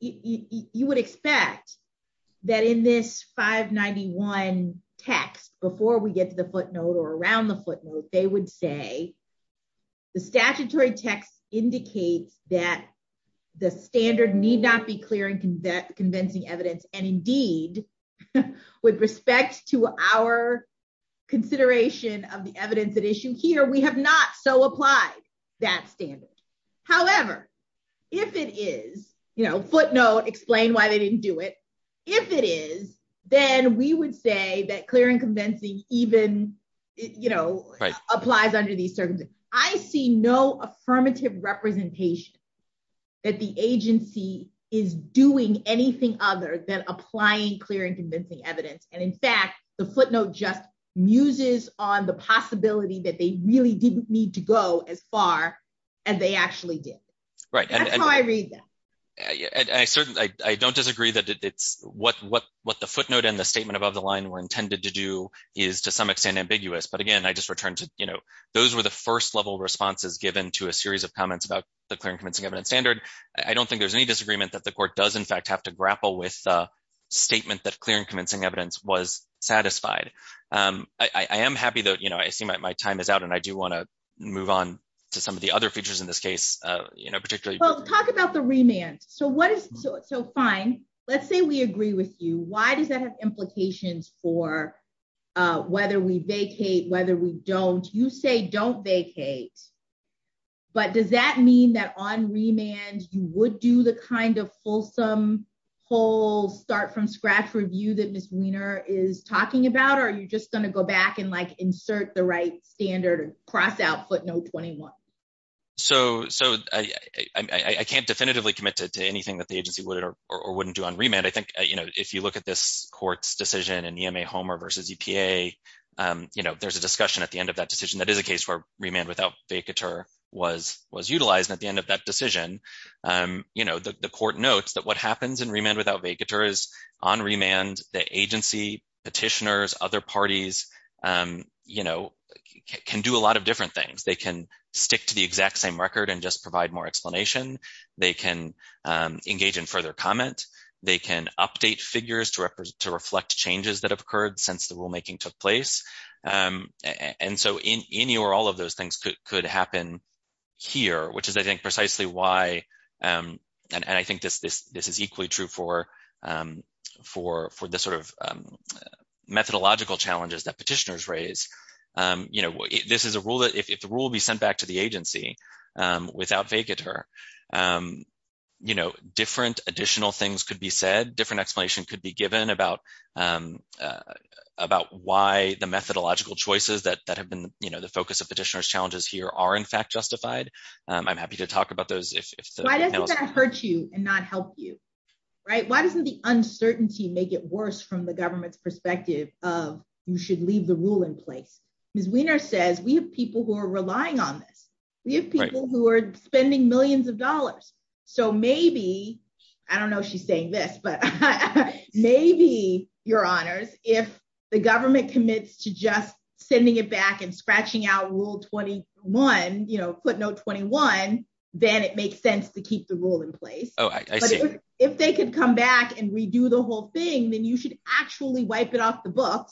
You would expect that in this 591 text before we get to the footnote or around the footnote, they would say The statutory text indicates that the standard need not be clear and convincing evidence and indeed with respect to our Consideration of the evidence at issue here. We have not so applied that standard. However, if it is, you know, footnote explain why they didn't do it. If it is, then we would say that clear and convincing even, you know, applies under these circumstances. I see no affirmative representation That the agency is doing anything other than applying clear and convincing evidence. And in fact, the footnote just muses on the possibility that they really didn't need to go as far as they actually did. I don't disagree that it's what what what the footnote and the statement above the line were intended to do Is to some extent ambiguous. But again, I just returned to, you know, those were the first level responses given to a series of comments about the clear and convincing evidence standard. I don't think there's any disagreement that the court does in fact have to grapple with the statement that clear and convincing evidence was satisfied. I am happy that, you know, I see my time is out. And I do want to move on to some of the other features in this case, you know, particularly Talk about the remand. So what is so fine. Let's say we agree with you. Why does that have implications for whether we vacate whether we don't you say don't vacate. But does that mean that on remand, you would do the kind of fulsome whole start from scratch review that Ms. Weiner is talking about. Are you just going to go back and like insert the right standard cross out footnote 21 So, so I can't definitively committed to anything that the agency would or wouldn't do on remand. I think, you know, if you look at this court's decision and EMA Homer versus EPA. You know, there's a discussion at the end of that decision that is a case for remand without vacator was was utilized at the end of that decision. You know, the court notes that what happens in remand without vacators on remand the agency petitioners other parties. You know, can do a lot of different things they can stick to the exact same record and just provide more explanation, they can Engage in further comment they can update figures to represent to reflect changes that have occurred since the rulemaking took place. And so in any or all of those things could happen here, which is, I think, precisely why. And I think this, this, this is equally true for For for the sort of Methodological challenges that petitioners raise, you know, this is a rule that if the rule be sent back to the agency without vacator You know, different additional things could be said different explanation could be given about About why the methodological choices that that have been, you know, the focus of petitioners challenges here are in fact justified. I'm happy to talk about those Hurt you and not help you. Right. Why doesn't the uncertainty, make it worse from the government's perspective of you should leave the rule in place. Says we have people who are relying on these people who are spending millions of dollars. So maybe I don't know she's saying this, but It makes sense to keep the rule in place. Oh, if they could come back and redo the whole thing, then you should actually wipe it off the book.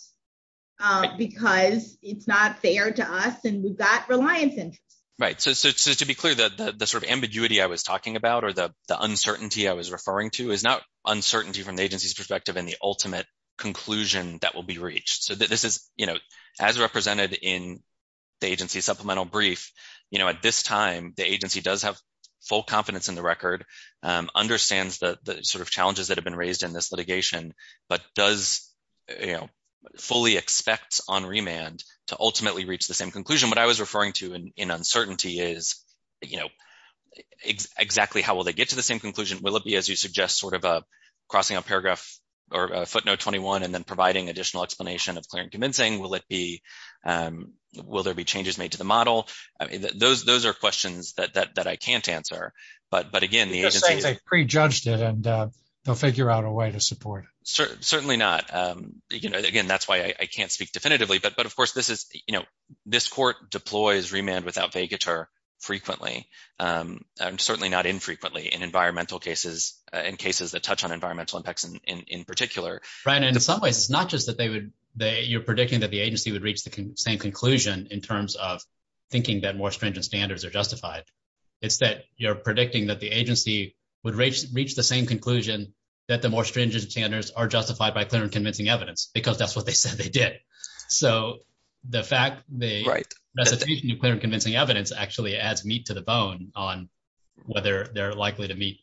Because it's not fair to us and we've got reliance in Right. So to be clear that the sort of ambiguity. I was talking about, or the uncertainty. I was referring to is not uncertainty from the agency's perspective and the ultimate conclusion that will be reached. So this is, you know, as represented in The agency supplemental brief, you know, at this time, the agency does have full confidence in the record understands the sort of challenges that have been raised in this litigation, but does You know fully expects on remand to ultimately reach the same conclusion. What I was referring to in uncertainty is, you know, Exactly. How will they get to the same conclusion, will it be as you suggest sort of a crossing a paragraph or footnote 21 and then providing additional explanation of clearing convincing, will it be Will there be changes made to the model. Those, those are questions that I can't answer. But, but again, the agency Pre judged it and they'll figure out a way to support Certainly not. Again, that's why I can't speak definitively but but of course this is, you know, this court deploys remand without vacator frequently Certainly not infrequently in environmental cases and cases that touch on environmental impacts in particular Right. And in some ways, it's not just that they would they you're predicting that the agency would reach the same conclusion in terms of thinking that more stringent standards are justified. It's that you're predicting that the agency would reach the same conclusion that the more stringent standards are justified by clear and convincing evidence because that's what they said they did. So the fact the Right. Clear and convincing evidence actually adds meat to the bone on whether they're likely to meet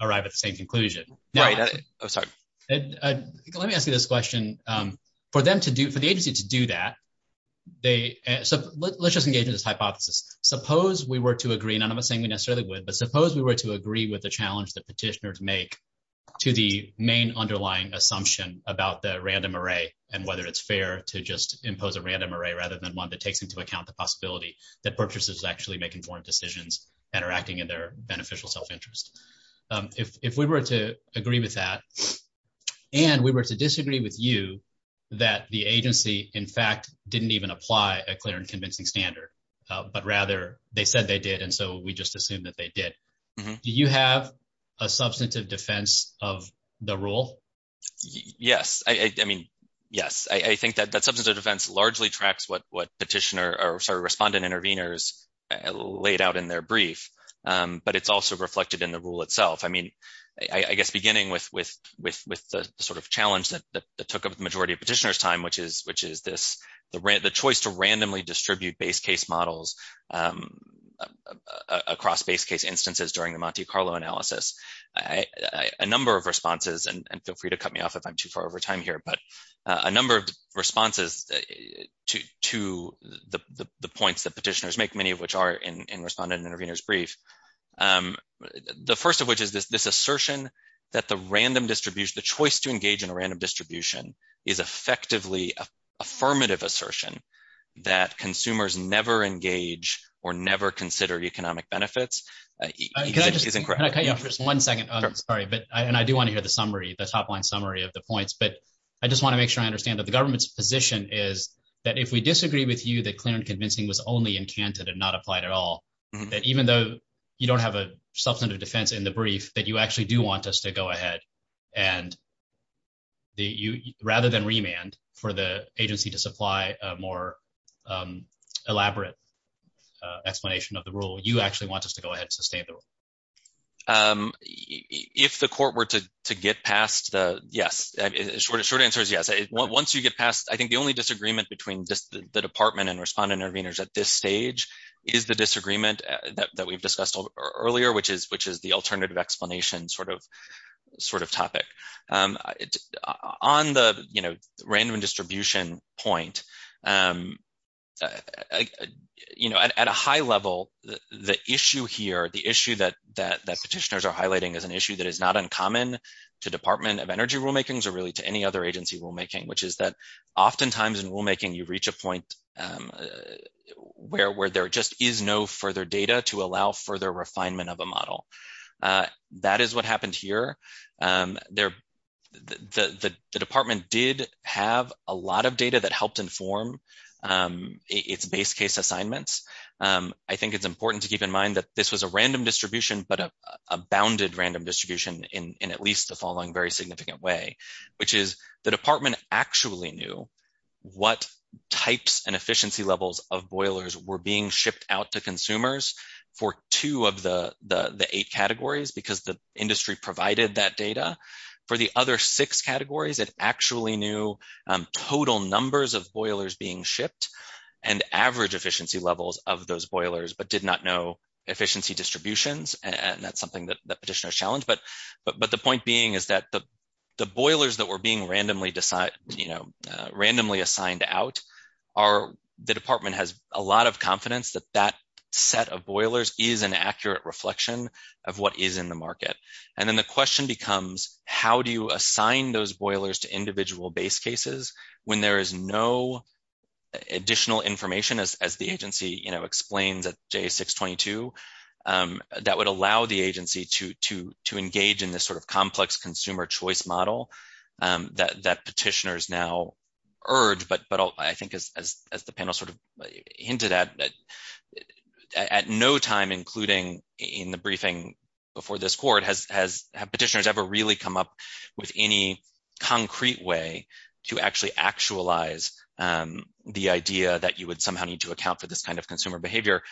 arrive at the same conclusion. Right. Let me ask you this question for them to do for the agency to do that. They let's just engage in this hypothesis. Suppose we were to agree. None of us think it necessarily would. But suppose we were to agree with the challenge that petitioners make To the main underlying assumption about the random array and whether it's fair to just impose a random array, rather than one that takes into account the possibility that purchases actually make important decisions that are acting in their beneficial self interest. If we were to agree with that. And we were to disagree with you that the agency, in fact, didn't even apply a clear and convincing standard, but rather they said they did. And so we just assume that they did. Do you have a substantive defense of the rule. Yes, I mean, yes, I think that that's something that events largely tracks what what petitioner or respondent interveners laid out in their brief. But it's also reflected in the rule itself. I mean, I guess, beginning with, with, with, with the sort of challenge that took up majority petitioners time which is which is this the rent the choice to randomly distribute base case models. Across base case instances during the Monte Carlo analysis I a number of responses and feel free to cut me off if I'm too far over time here, but a number of responses to the points that petitioners make many of which are in respondent interveners brief. The first of which is this this assertion that the random distribution, the choice to engage in a random distribution is effectively affirmative assertion that consumers never engage or never consider economic benefits. One second. Sorry, but I do want to hear the summary the top line summary of the points, but I just want to make sure I understand that the government's position is that if we disagree with you that clear and convincing was only in Canada did not apply at all. Even though you don't have a substantive defense in the brief, but you actually do want us to go ahead and. Rather than remand for the agency to supply more elaborate explanation of the rule, you actually want us to go ahead and sustain. If the court were to get past the yes. Short answer is yes. Once you get past, I think the only disagreement between the department and respondent interveners at this stage is the disagreement that we've discussed earlier, which is, which is the alternative explanation sort of sort of topic on the random distribution point. At a high level, the issue here, the issue that petitioners are highlighting is an issue that is not uncommon to Department of Energy rulemakings or really to any other agency rulemaking, which is that oftentimes in rulemaking you reach a point. Where were there just is no further data to allow further refinement of a model. That is what happened here. The department did have a lot of data that helped inform its base case assignments. I think it's important to keep in mind that this was a random distribution, but a bounded random distribution in at least the following very significant way. Which is the department actually knew what types and efficiency levels of boilers were being shipped out to consumers for two of the eight categories because the industry provided that data. For the other six categories, it actually knew total numbers of boilers being shipped and average efficiency levels of those boilers, but did not know efficiency distributions. And that's something that petitioner challenged, but the point being is that the boilers that were being randomly assigned out The department has a lot of confidence that that set of boilers is an accurate reflection of what is in the market. And then the question becomes, how do you assign those boilers to individual base cases when there is no additional information as the agency, you know, explained that J622 That would allow the agency to engage in this sort of complex consumer choice model that petitioners now erred, but I think as the panel sort of hinted at At no time, including in the briefing before this court, has petitioners ever really come up with any concrete way to actually actualize The idea that you would somehow need to account for this kind of consumer behavior.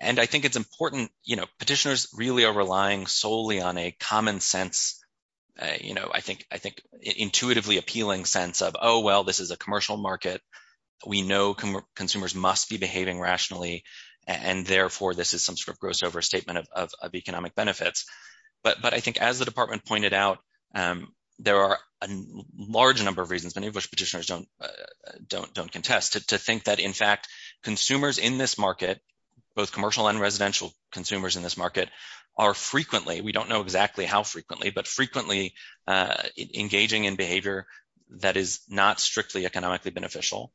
And I think it's important, you know, petitioners really are relying solely on a common sense. You know, I think, I think, intuitively appealing sense of, oh, well, this is a commercial market. We know consumers must be behaving rationally and therefore this is some sort of gross overstatement of economic benefits. But I think as the department pointed out, there are a large number of reasons in which petitioners don't contest to think that in fact consumers in this market. Both commercial and residential consumers in this market are frequently, we don't know exactly how frequently, but frequently engaging in behavior that is not strictly economically beneficial.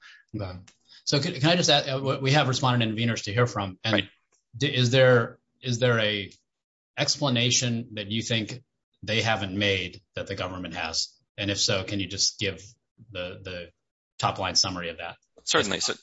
So can I just add, we have a respondent in Venus to hear from, and is there a explanation that you think they haven't made that the government has? And if so, can you just give the top line summary of that? Certainly. So,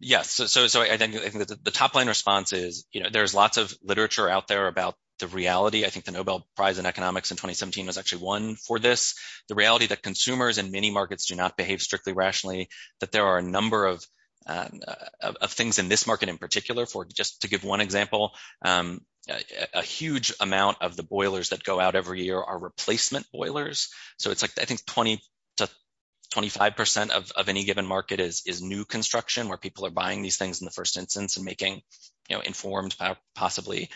yes. So the top line response is, you know, there's lots of literature out there about the reality. I think the Nobel Prize in economics in 2017 was actually won for this. The reality that consumers in many markets do not behave strictly rationally, but there are a number of things in this market in particular for just to give one example, a huge amount of the boilers that go out every year are replacement boilers. So it's like, I think 20 to 25% of any given market is new construction where people are buying these things in the first instance and making informed, possibly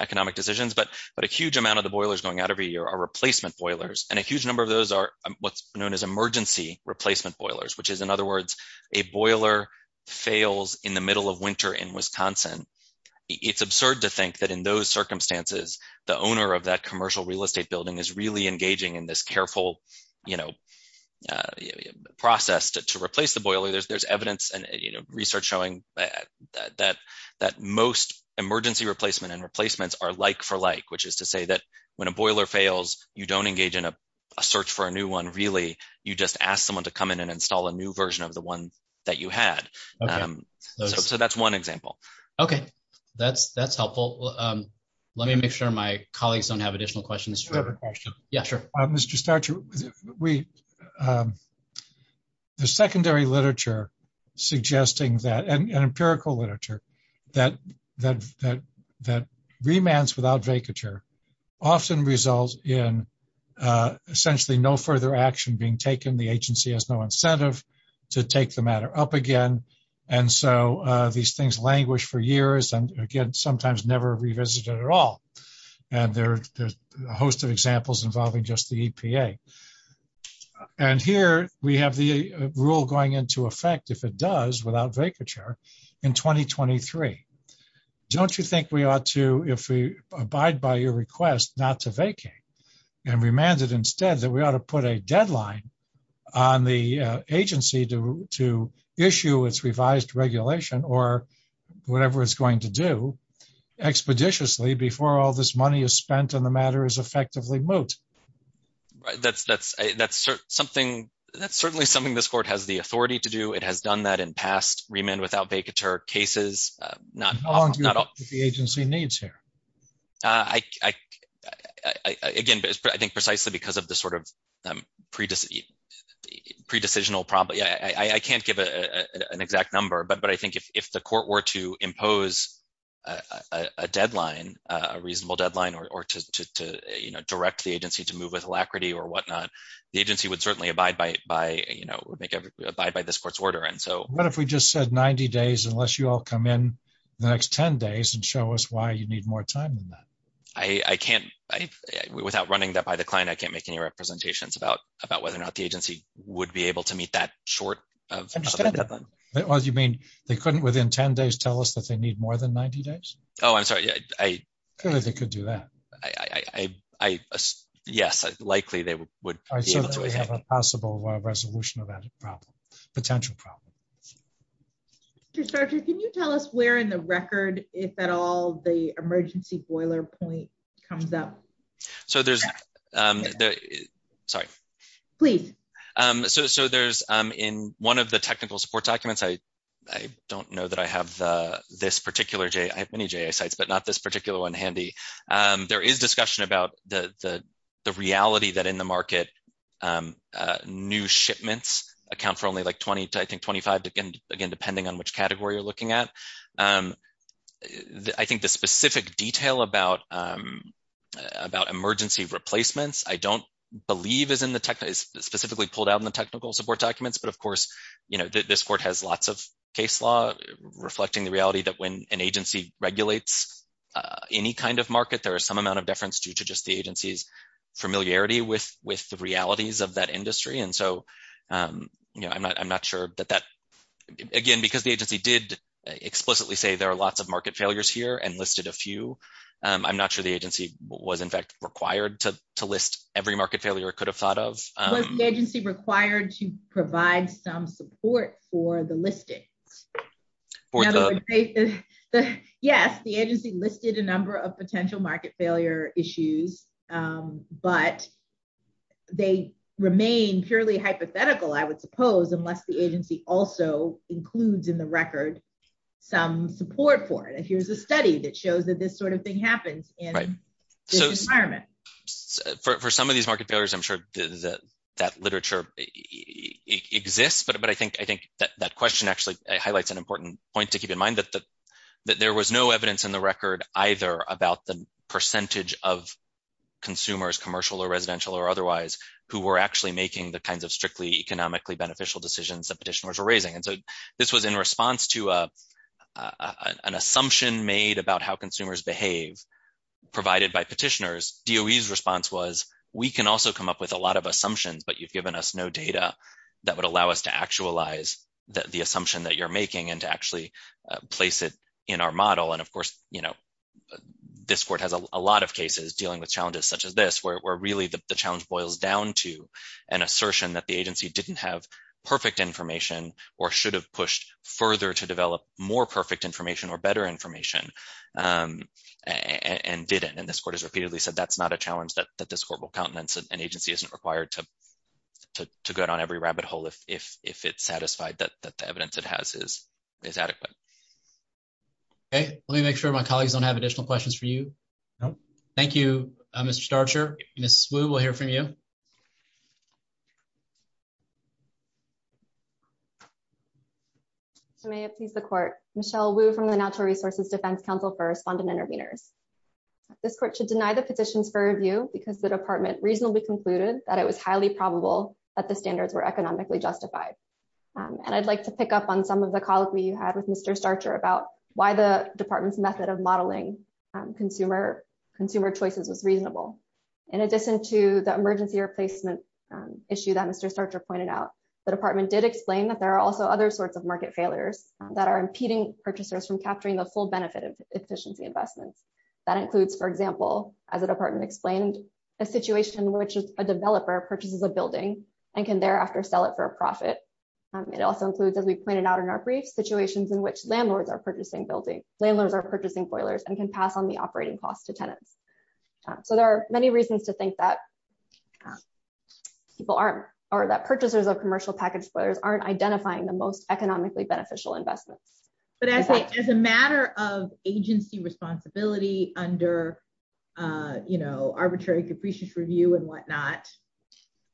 economic decisions. But a huge amount of the boilers going out every year are replacement boilers, and a huge number of those are what's known as emergency replacement boilers, which is, in other words, a boiler fails in the middle of winter in Wisconsin. It's absurd to think that in those circumstances, the owner of that commercial real estate building is really engaging in this careful process to replace the boiler. There's evidence and research showing that most emergency replacement and replacements are like for like, which is to say that when a boiler fails, you don't engage in a search for a new one, really. You just ask someone to come in and install a new version of the one that you had. So that's one example. Okay, that's helpful. Let me make sure my colleagues don't have additional questions. Mr. Starcher, the secondary literature suggesting that, and empirical literature, that remands without vacature often result in essentially no further action being taken. The agency has no incentive to take the matter up again. And so these things languish for years and again, sometimes never revisited at all. And there's a host of examples involving just the EPA. And here we have the rule going into effect, if it does, without vacature in 2023. Don't you think we ought to, if we abide by your request, not to vacate and remanded instead that we ought to put a deadline on the agency to issue its revised regulation or whatever it's going to do expeditiously before all this money is spent on the matter is effectively moot? That's certainly something this court has the authority to do. It has done that in past remand without vacature cases. As long as the agency needs to. Again, I think precisely because of the sort of pre-decisional problem. I can't give an exact number, but I think if the court were to impose a deadline, a reasonable deadline, or to direct the agency to move with alacrity or whatnot, the agency would certainly abide by this court's order. What if we just said 90 days, unless you all come in the next 10 days and show us why you need more time than that? I can't, without running that by the client, I can't make any representations about whether or not the agency would be able to meet that short of a deadline. You mean they couldn't, within 10 days, tell us that they need more than 90 days? Oh, I'm sorry. Clearly they could do that. Yes, likely they would. I think we have a possible resolution of that problem, potential problem. Mr. Starcher, can you tell us where in the record, if at all, the emergency boiler point comes up? So there's, sorry. Please. So there's in one of the technical support documents, I don't know that I have this particular, I have many JAS sites, but not this particular one handy. There is discussion about the reality that in the market, new shipments account for only like 20 to I think 25, again, depending on which category you're looking at. I think the specific detail about emergency replacements, I don't believe is in the, is specifically pulled out in the technical support documents. But of course, you know, this court has lots of case law reflecting the reality that when an agency regulates any kind of market, there is some amount of difference due to just the agency's familiarity with the realities of that industry. And so, you know, I'm not sure that that, again, because the agency did explicitly say there are lots of market failures here and listed a few. I'm not sure the agency was in fact required to list every market failure it could have thought of. Was the agency required to provide some support for the listing? Yes, the agency listed a number of potential market failure issues. But they remain purely hypothetical, I would suppose, unless the agency also includes in the record some support for it. And here's a study that shows that this sort of thing happens in this environment. For some of these market failures, I'm sure that literature exists, but I think that question actually highlights an important point to keep in mind, that there was no evidence in the record either about the percentage of consumers, commercial or residential or otherwise, who were actually making the kinds of strictly economically beneficial decisions that petitioners were raising. And so this was in response to an assumption made about how consumers behave provided by petitioners. DOE's response was, we can also come up with a lot of assumptions, but you've given us no data that would allow us to actualize the assumption that you're making and to actually place it in our model. And of course, this court has a lot of cases dealing with challenges such as this, where really the challenge boils down to an assertion that the agency didn't have perfect information or should have pushed further to develop more perfect information or better information and didn't. And this court has repeatedly said that's not a challenge that this court will countenance. An agency isn't required to go down every rabbit hole if it's satisfied that the evidence it has is adequate. Let me make sure my colleagues don't have additional questions for you. Thank you, Mr. Starcher. Ms. Wu, we'll hear from you. I may appease the court. Michelle Wu from the Natural Resources Defense Council for Respondent Intervenors. This court should deny the petition for review because the department reasonably concluded that it was highly probable that the standards were economically justified. And I'd like to pick up on some of the calls we had with Mr. Starcher about why the department's method of modeling consumer choices was reasonable. In addition to the emergency replacement issue that Mr. Starcher pointed out, the department did explain that there are also other sorts of market failures that are impeding purchasers from capturing the full benefit of efficiency investments. That includes, for example, as the department explained, a situation in which a developer purchases a building and can thereafter sell it for a profit. It also includes, as we pointed out in our brief, situations in which landlords are purchasing foilers and can pass on the operating costs to tenants. So there are many reasons to think that people aren't, or that purchasers of commercial packaged foilers aren't identifying the most economically beneficial investment. But as a matter of agency responsibility under, you know, arbitrary capricious review and whatnot,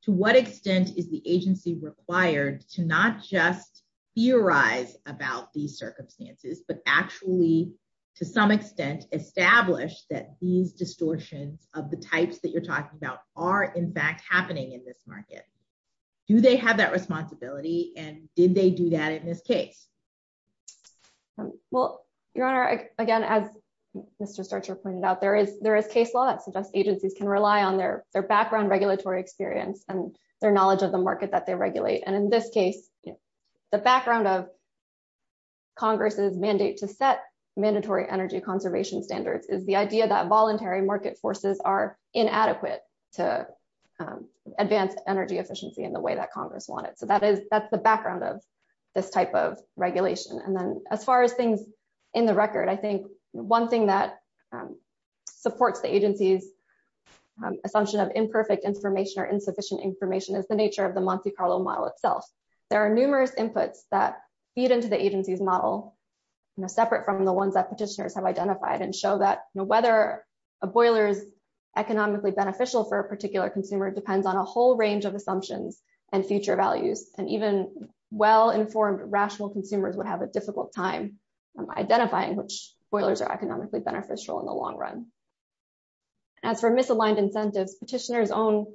to what extent is the agency required to not just theorize about these circumstances, but actually, to some extent, establish that these distortions of the types that you're talking about are in fact happening in this market? Do they have that responsibility and did they do that in this case? Well, Your Honor, again, as Mr. Starcher pointed out, there is case law that suggests agencies can rely on their background regulatory experience and their knowledge of the market that they regulate. And in this case, the background of Congress's mandate to set mandatory energy conservation standards is the idea that voluntary market forces are inadequate to advance energy efficiency in the way that Congress wanted. So that is, that's the background of this type of regulation. And then as far as things in the record, I think one thing that supports the agency's assumption of imperfect information or insufficient information is the nature of the Monte Carlo model itself. There are numerous inputs that feed into the agency's model, separate from the ones that petitioners have identified, and show that whether a boiler is safe and even well-informed, rational consumers would have a difficult time identifying which boilers are economically beneficial in the long run. As for misaligned incentives, petitioners' own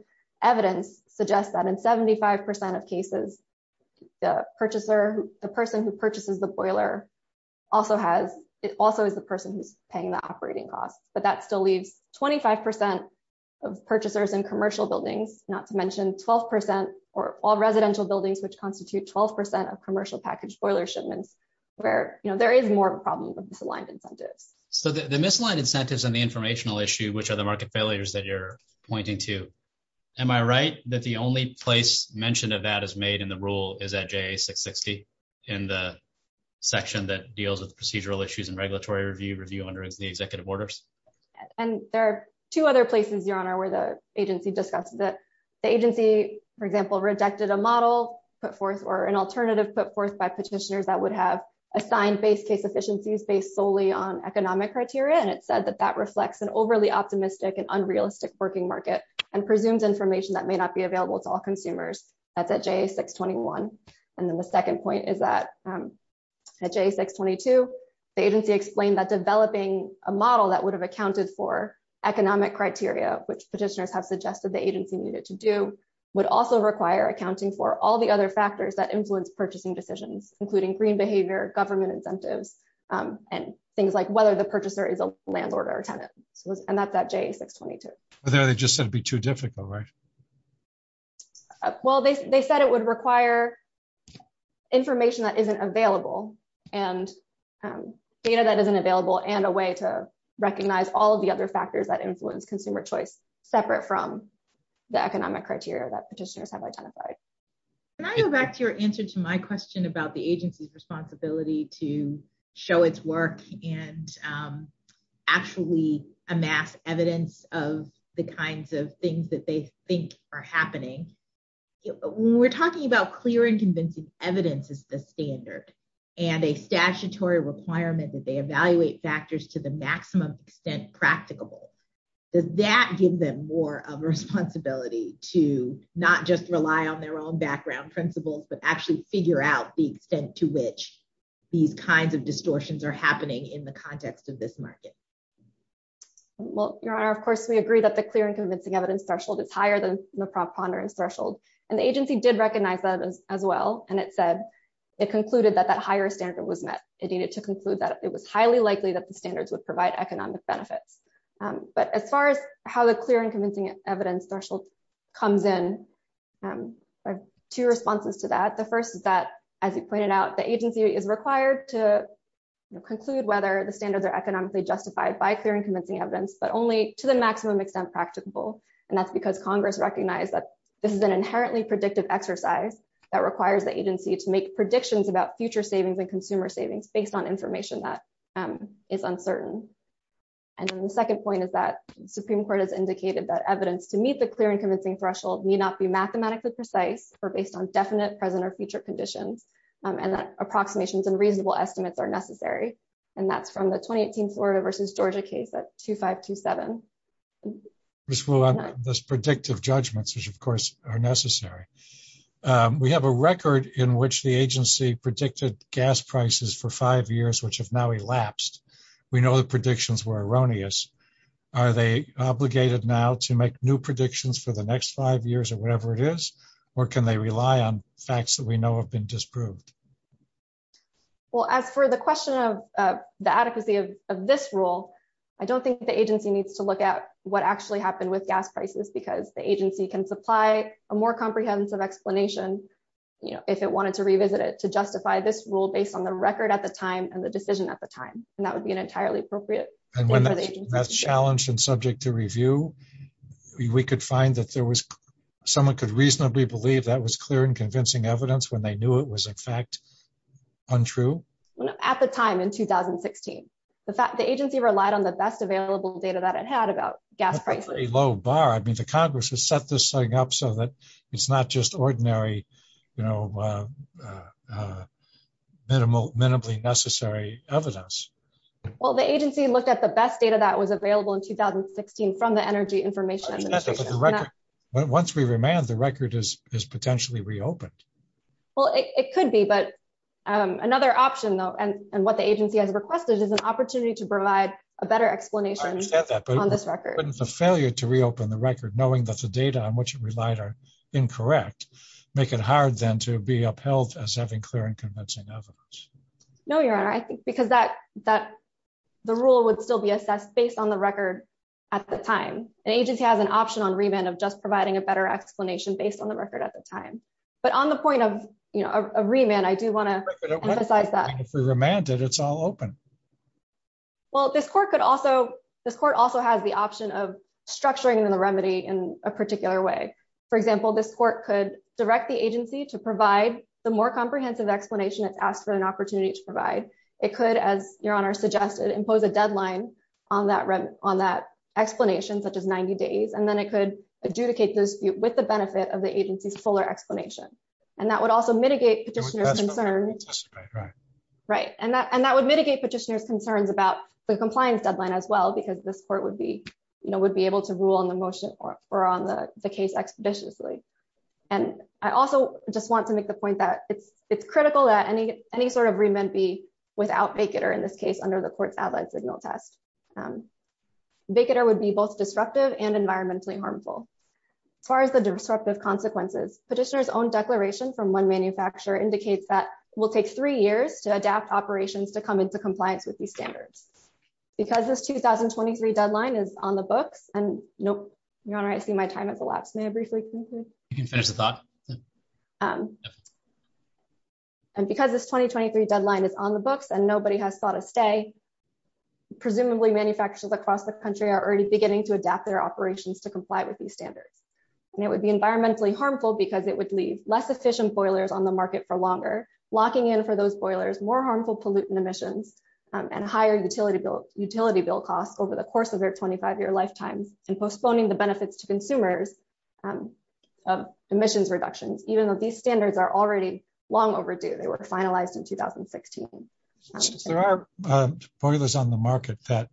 evidence suggests that in 75% of cases, the person who purchases the boiler also is the person who's paying the operating costs. But that still leaves 25% of purchasers in commercial buildings, not to mention 12% or all residential buildings, which constitute 12% of commercial package boiler shipments, where there is more of a problem with misaligned incentives. So the misaligned incentives and the informational issue, which are the market failures that you're pointing to, am I right that the only place mention of that is made in the rule is at J.A. 660 in the section that deals with procedural issues and regulatory review under the executive orders? And there are two other places, Your Honor, where the agency discusses it. The agency, for example, rejected a model put forth or an alternative put forth by petitioners that would have assigned base case efficiencies based solely on economic criteria. And it says that that reflects an overly optimistic and unrealistic working market and presumes information that may not be available to all consumers at that J.A. 621. And then the second point is that at J.A. 622, the agency explained that developing a model that would have accounted for economic criteria, which petitioners have suggested the agency needed to do, would also require accounting for all the other factors that influence purchasing decisions, including green behavior, government incentives, and things like whether the purchaser is a landlord or a tenant. And that's at J.A. 622. But then they just said it would be too difficult, right? Well, they said it would require information that isn't available and data that isn't available and a way to recognize all the other factors that influence consumer choice separate from the economic criteria that petitioners have identified. Can I go back to your answer to my question about the agency's responsibility to show its work and actually amass evidence of the kinds of things that they think are happening? When we're talking about clear and convincing evidence as the standard and a statutory requirement that they evaluate factors to the maximum extent practicable, does that give them more of a responsibility to not just rely on their own background principles but actually figure out the extent to which these kinds of distortions are happening in the context of this market? Well, Your Honor, of course, we agree that the clear and convincing evidence threshold is higher than the prompt ponderance threshold. And the agency did recognize that as well, and it said it concluded that that higher standard was met. It needed to conclude that it was highly likely that the standards would provide economic benefit. But as far as how the clear and convincing evidence threshold comes in, there are two responses to that. The first is that, as you pointed out, the agency is required to conclude whether the standards are economically justified by clear and convincing evidence, but only to the maximum extent practicable. And that's because Congress recognized that this is an inherently predictive exercise that requires the agency to make predictions about future savings and consumer savings based on information that is uncertain. And the second point is that the Supreme Court has indicated that evidence to meet the clear and convincing threshold may not be mathematically precise or based on definite present or future conditions, and that approximations and reasonable estimates are necessary. And that's from the 2018 Florida versus Georgia case, that's 2527. Ms. Wolin, those predictive judgments, of course, are necessary. We have a record in which the agency predicted gas prices for five years, which have now elapsed. We know the predictions were erroneous. Are they obligated now to make new predictions for the next five years or whatever it is, or can they rely on facts that we know have been disproved? Well, as for the question of the adequacy of this rule, I don't think the agency needs to look at what actually happened with gas prices, because the agency can supply a more comprehensive explanation, you know, if it wanted to revisit it, to justify this rule based on the record at the time and the decision at the time. And that would be entirely appropriate. And when that's challenged and subject to review, we could find that there was someone could reasonably believe that was clear and convincing evidence when they knew it was, in fact, untrue? At the time, in 2016. The agency relied on the best available data that it had about gas prices. I mean, the Congress has set this thing up so that it's not just ordinary, you know, minimally necessary evidence. Well, the agency looked at the best data that was available in 2016 from the Energy Information Administration. Once we remand, the record is potentially reopened. Well, it could be, but another option, though, and what the agency has requested is an opportunity to provide a better explanation on this record. Wouldn't the failure to reopen the record, knowing that the data on which it relied are incorrect, make it hard, then, to be upheld as having clear and convincing evidence? No, Your Honor, I think because the rule would still be assessed based on the record at the time. An agency has an option on remand of just providing a better explanation based on the record at the time. But on the point of, you know, a remand, I do want to emphasize that. If we remand it, it's all open. Well, this court also has the option of structuring the remedy in a particular way. For example, this court could direct the agency to provide the more comprehensive explanation it asks for an opportunity to provide. It could, as Your Honor suggested, impose a deadline on that explanation, such as 90 days, and then it could adjudicate those with the benefit of the agency's fuller explanation. And that would also mitigate Petitioner's concerns about the compliance deadline as well, because this court would be, you know, would be able to rule on the motion or on the case expeditiously. And I also just want to make the point that it's critical that any sort of remand be without vacater in this case under the Court's Allied Signal Test. Vacater would be both disruptive and environmentally harmful. As far as the disruptive consequences, Petitioner's own declaration from one manufacturer indicates that it will take three years to adapt operations to come into compliance with these standards. Because this 2023 deadline is on the books, and nope, Your Honor, I see my time has elapsed. May I briefly continue? You can finish the thought. And because this 2023 deadline is on the books and nobody has sought a stay, presumably manufacturers across the country are already beginning to adapt their operations to comply with these standards. And it would be environmentally harmful because it would leave less efficient boilers on the market for longer, locking in for those boilers more harmful pollutant emissions, and higher utility bill costs over the course of their 25-year lifetime, and postponing the benefits to consumers. Emissions reduction, even though these standards are already long overdue, they were finalized in 2016. There are boilers on the market that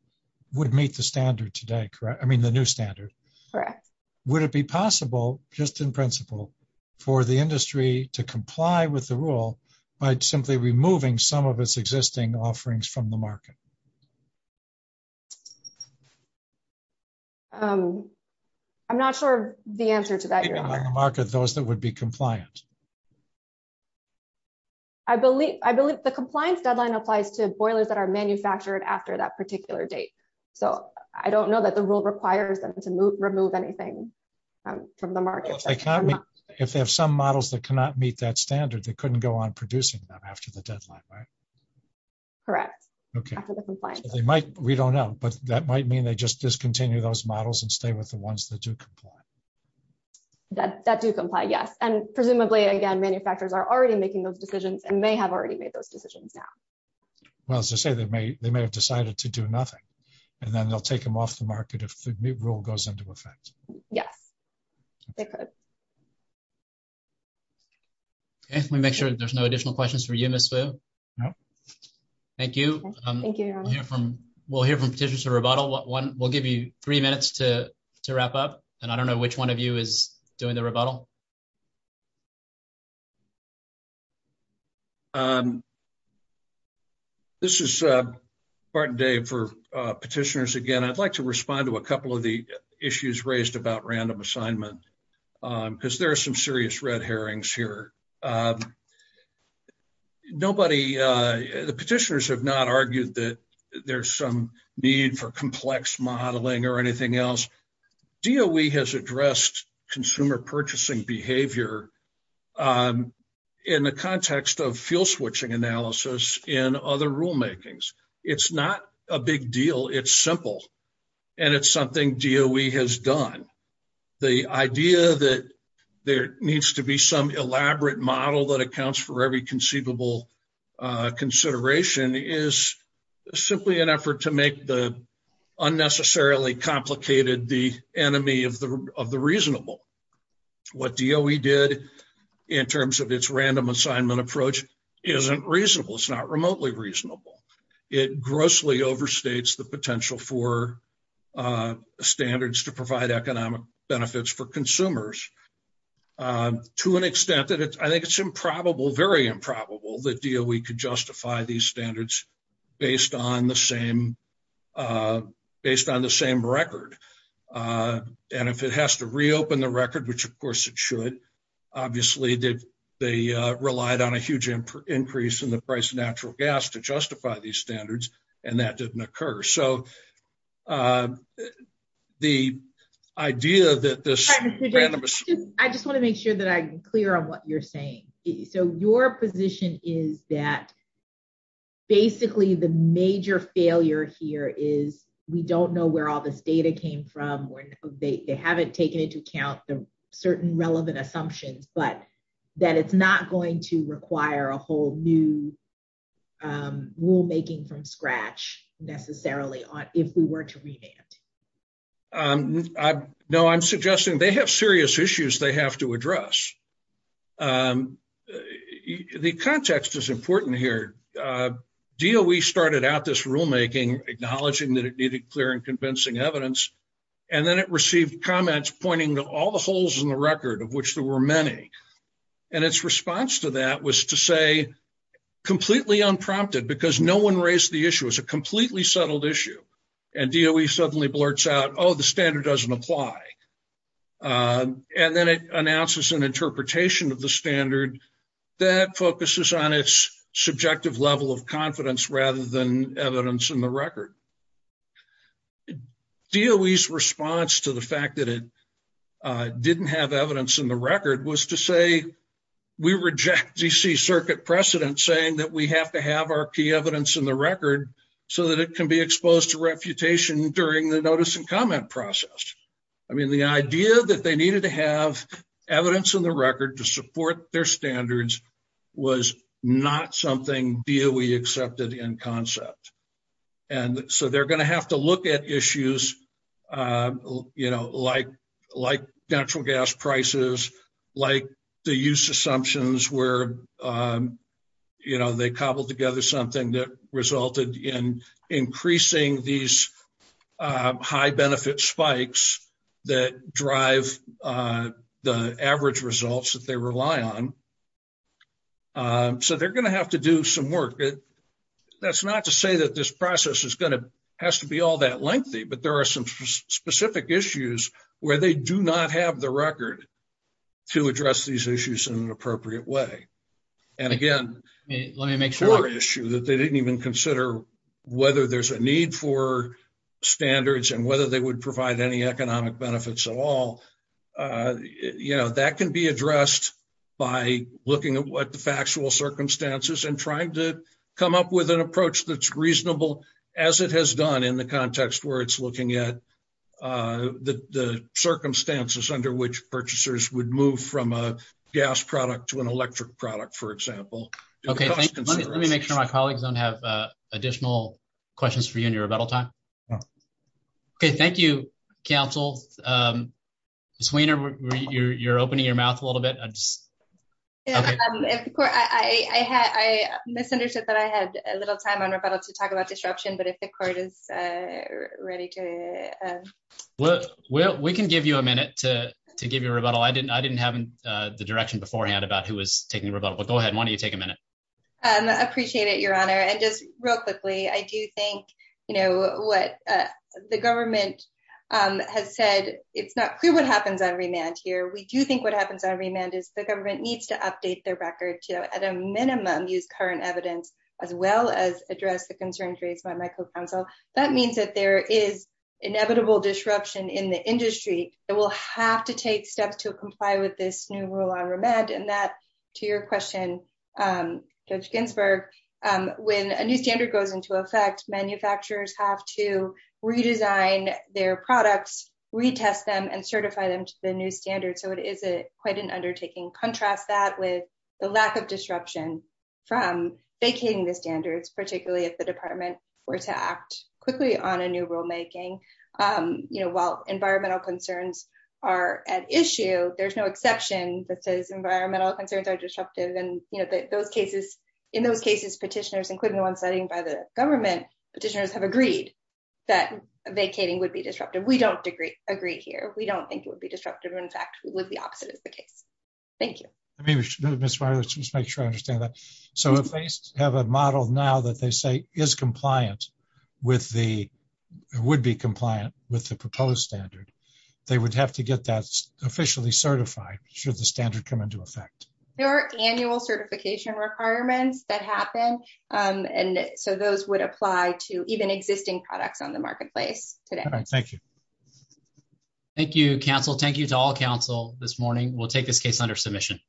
would meet the standard today, correct? I mean, the new standard. Correct. Would it be possible, just in principle, for the industry to comply with the rule by simply removing some of its existing offerings from the market? I'm not sure the answer to that, Your Honor. On the market, those that would be compliant. I believe the compliance deadline applies to boilers that are manufactured after that particular date. So I don't know that the rule requires us to remove anything from the market. If they have some models that cannot meet that standard, they couldn't go on producing them after the deadline, right? Correct. Okay. We don't know. But that might mean they just discontinue those models and stay with the ones that do comply. That do comply, yes. And presumably, again, manufacturers are already making those decisions and may have already made those decisions now. Well, as I say, they may have decided to do nothing. And then they'll take them off the market if the new rule goes into effect. Yes, they could. Okay, let me make sure there's no additional questions for you, Ms. Wu. No. Thank you. Thank you, Your Honor. We'll hear from petitioners to rebuttal. We'll give you three minutes to wrap up. And I don't know which one of you is doing the rebuttal. This is Martin Day for petitioners again. I'd like to respond to a couple of the issues raised about random assignment because there are some serious red herrings here. Nobody, the petitioners have not argued that there's some need for complex modeling or anything else. DOE has addressed consumer purchasing behavior in the context of field switching analysis in other rulemakings. It's not a big deal. It's simple. And it's something DOE has done. The idea that there needs to be some elaborate model that accounts for every conceivable consideration is simply an effort to make the unnecessarily complicated the enemy of the reasonable. What DOE did in terms of its random assignment approach isn't reasonable. It's not remotely reasonable. It grossly overstates the potential for standards to provide economic benefits for consumers to an extent that I think it's improbable, very improbable, that DOE could justify these standards based on the same record. And if it has to reopen the record, which, of course, it should, obviously, they relied on a huge increase in the price of natural gas to justify these standards, and that didn't occur. So the idea that this random assignment… I just want to make sure that I'm clear on what you're saying. So your position is that basically the major failure here is we don't know where all this data came from. They haven't taken into account certain relevant assumptions, but that it's not going to require a whole new rulemaking from scratch necessarily if we were to revamp. No, I'm suggesting they have serious issues they have to address. The context is important here. DOE started out this rulemaking acknowledging that it needed clear and convincing evidence, and then it received comments pointing to all the holes in the record, of which there were many. And its response to that was to say completely unprompted because no one raised the issue. It was a completely settled issue. And DOE suddenly blurts out, oh, the standard doesn't apply. And then it announces an interpretation of the standard that focuses on its subjective level of confidence rather than evidence in the record. DOE's response to the fact that it didn't have evidence in the record was to say we reject D.C. Circuit precedent saying that we have to have our key evidence in the record so that it can be exposed to reputation during the notice and comment process. I mean, the idea that they needed to have evidence in the record to support their standards was not something DOE accepted in concept. And so they're going to have to look at issues, you know, like natural gas prices, like the use assumptions where, you know, they cobbled together something that resulted in increasing these high benefit spikes that drive the average results that they rely on. So they're going to have to do some work. That's not to say that this process has to be all that lengthy, but there are some specific issues where they do not have the record to address these issues in an appropriate way. And, again, a core issue that they didn't even consider whether there's a need for standards and whether they would provide any economic benefits at all. Yeah, that can be addressed by looking at what the factual circumstances and trying to come up with an approach that's reasonable as it has done in the context where it's looking at the circumstances under which purchasers would move from a gas product to an electric product, for example. Okay. Let me make sure my colleagues don't have additional questions for you in your rebuttal time. Okay. Thank you, counsel. Sweenor, you're opening your mouth a little bit. I misunderstood that I had a little time on rebuttal to talk about disruption, but if the court is ready to... We can give you a minute to give your rebuttal. I didn't have the direction beforehand about who was taking rebuttal, but go ahead. Why don't you take a minute? I appreciate it, Your Honor. Just real quickly, I do think what the government has said, it's not clear what happens on remand here. We do think what happens on remand is the government needs to update their records to, at a minimum, use current evidence as well as address the concerns raised by my co-counsel. That means that there is inevitable disruption in the industry. It will have to take steps to comply with this new rule on remand, and that, to your question, Judge Ginsburg, when a new standard goes into effect, manufacturers have to redesign their products, retest them, and certify them to the new standard, so it is quite an undertaking. Contrast that with the lack of disruption from vacating the standards, particularly if the department were to act quickly on a new rulemaking. While environmental concerns are at issue, there's no exception that says environmental concerns are disruptive. In those cases, petitioners, including the ones led by the government, petitioners have agreed that vacating would be disruptive. We don't agree here. We don't think it would be disruptive. In fact, it would be oxidative. Thank you. Let me make sure I understand that. So if they have a model now that they say is compliant with the, would be compliant with the proposed standard, they would have to get that officially certified should the standard come into effect. There are annual certification requirements that happen, and so those would apply to even existing products on the marketplace. Thank you. Thank you, counsel. Thank you to all counsel this morning. We'll take this case under submission.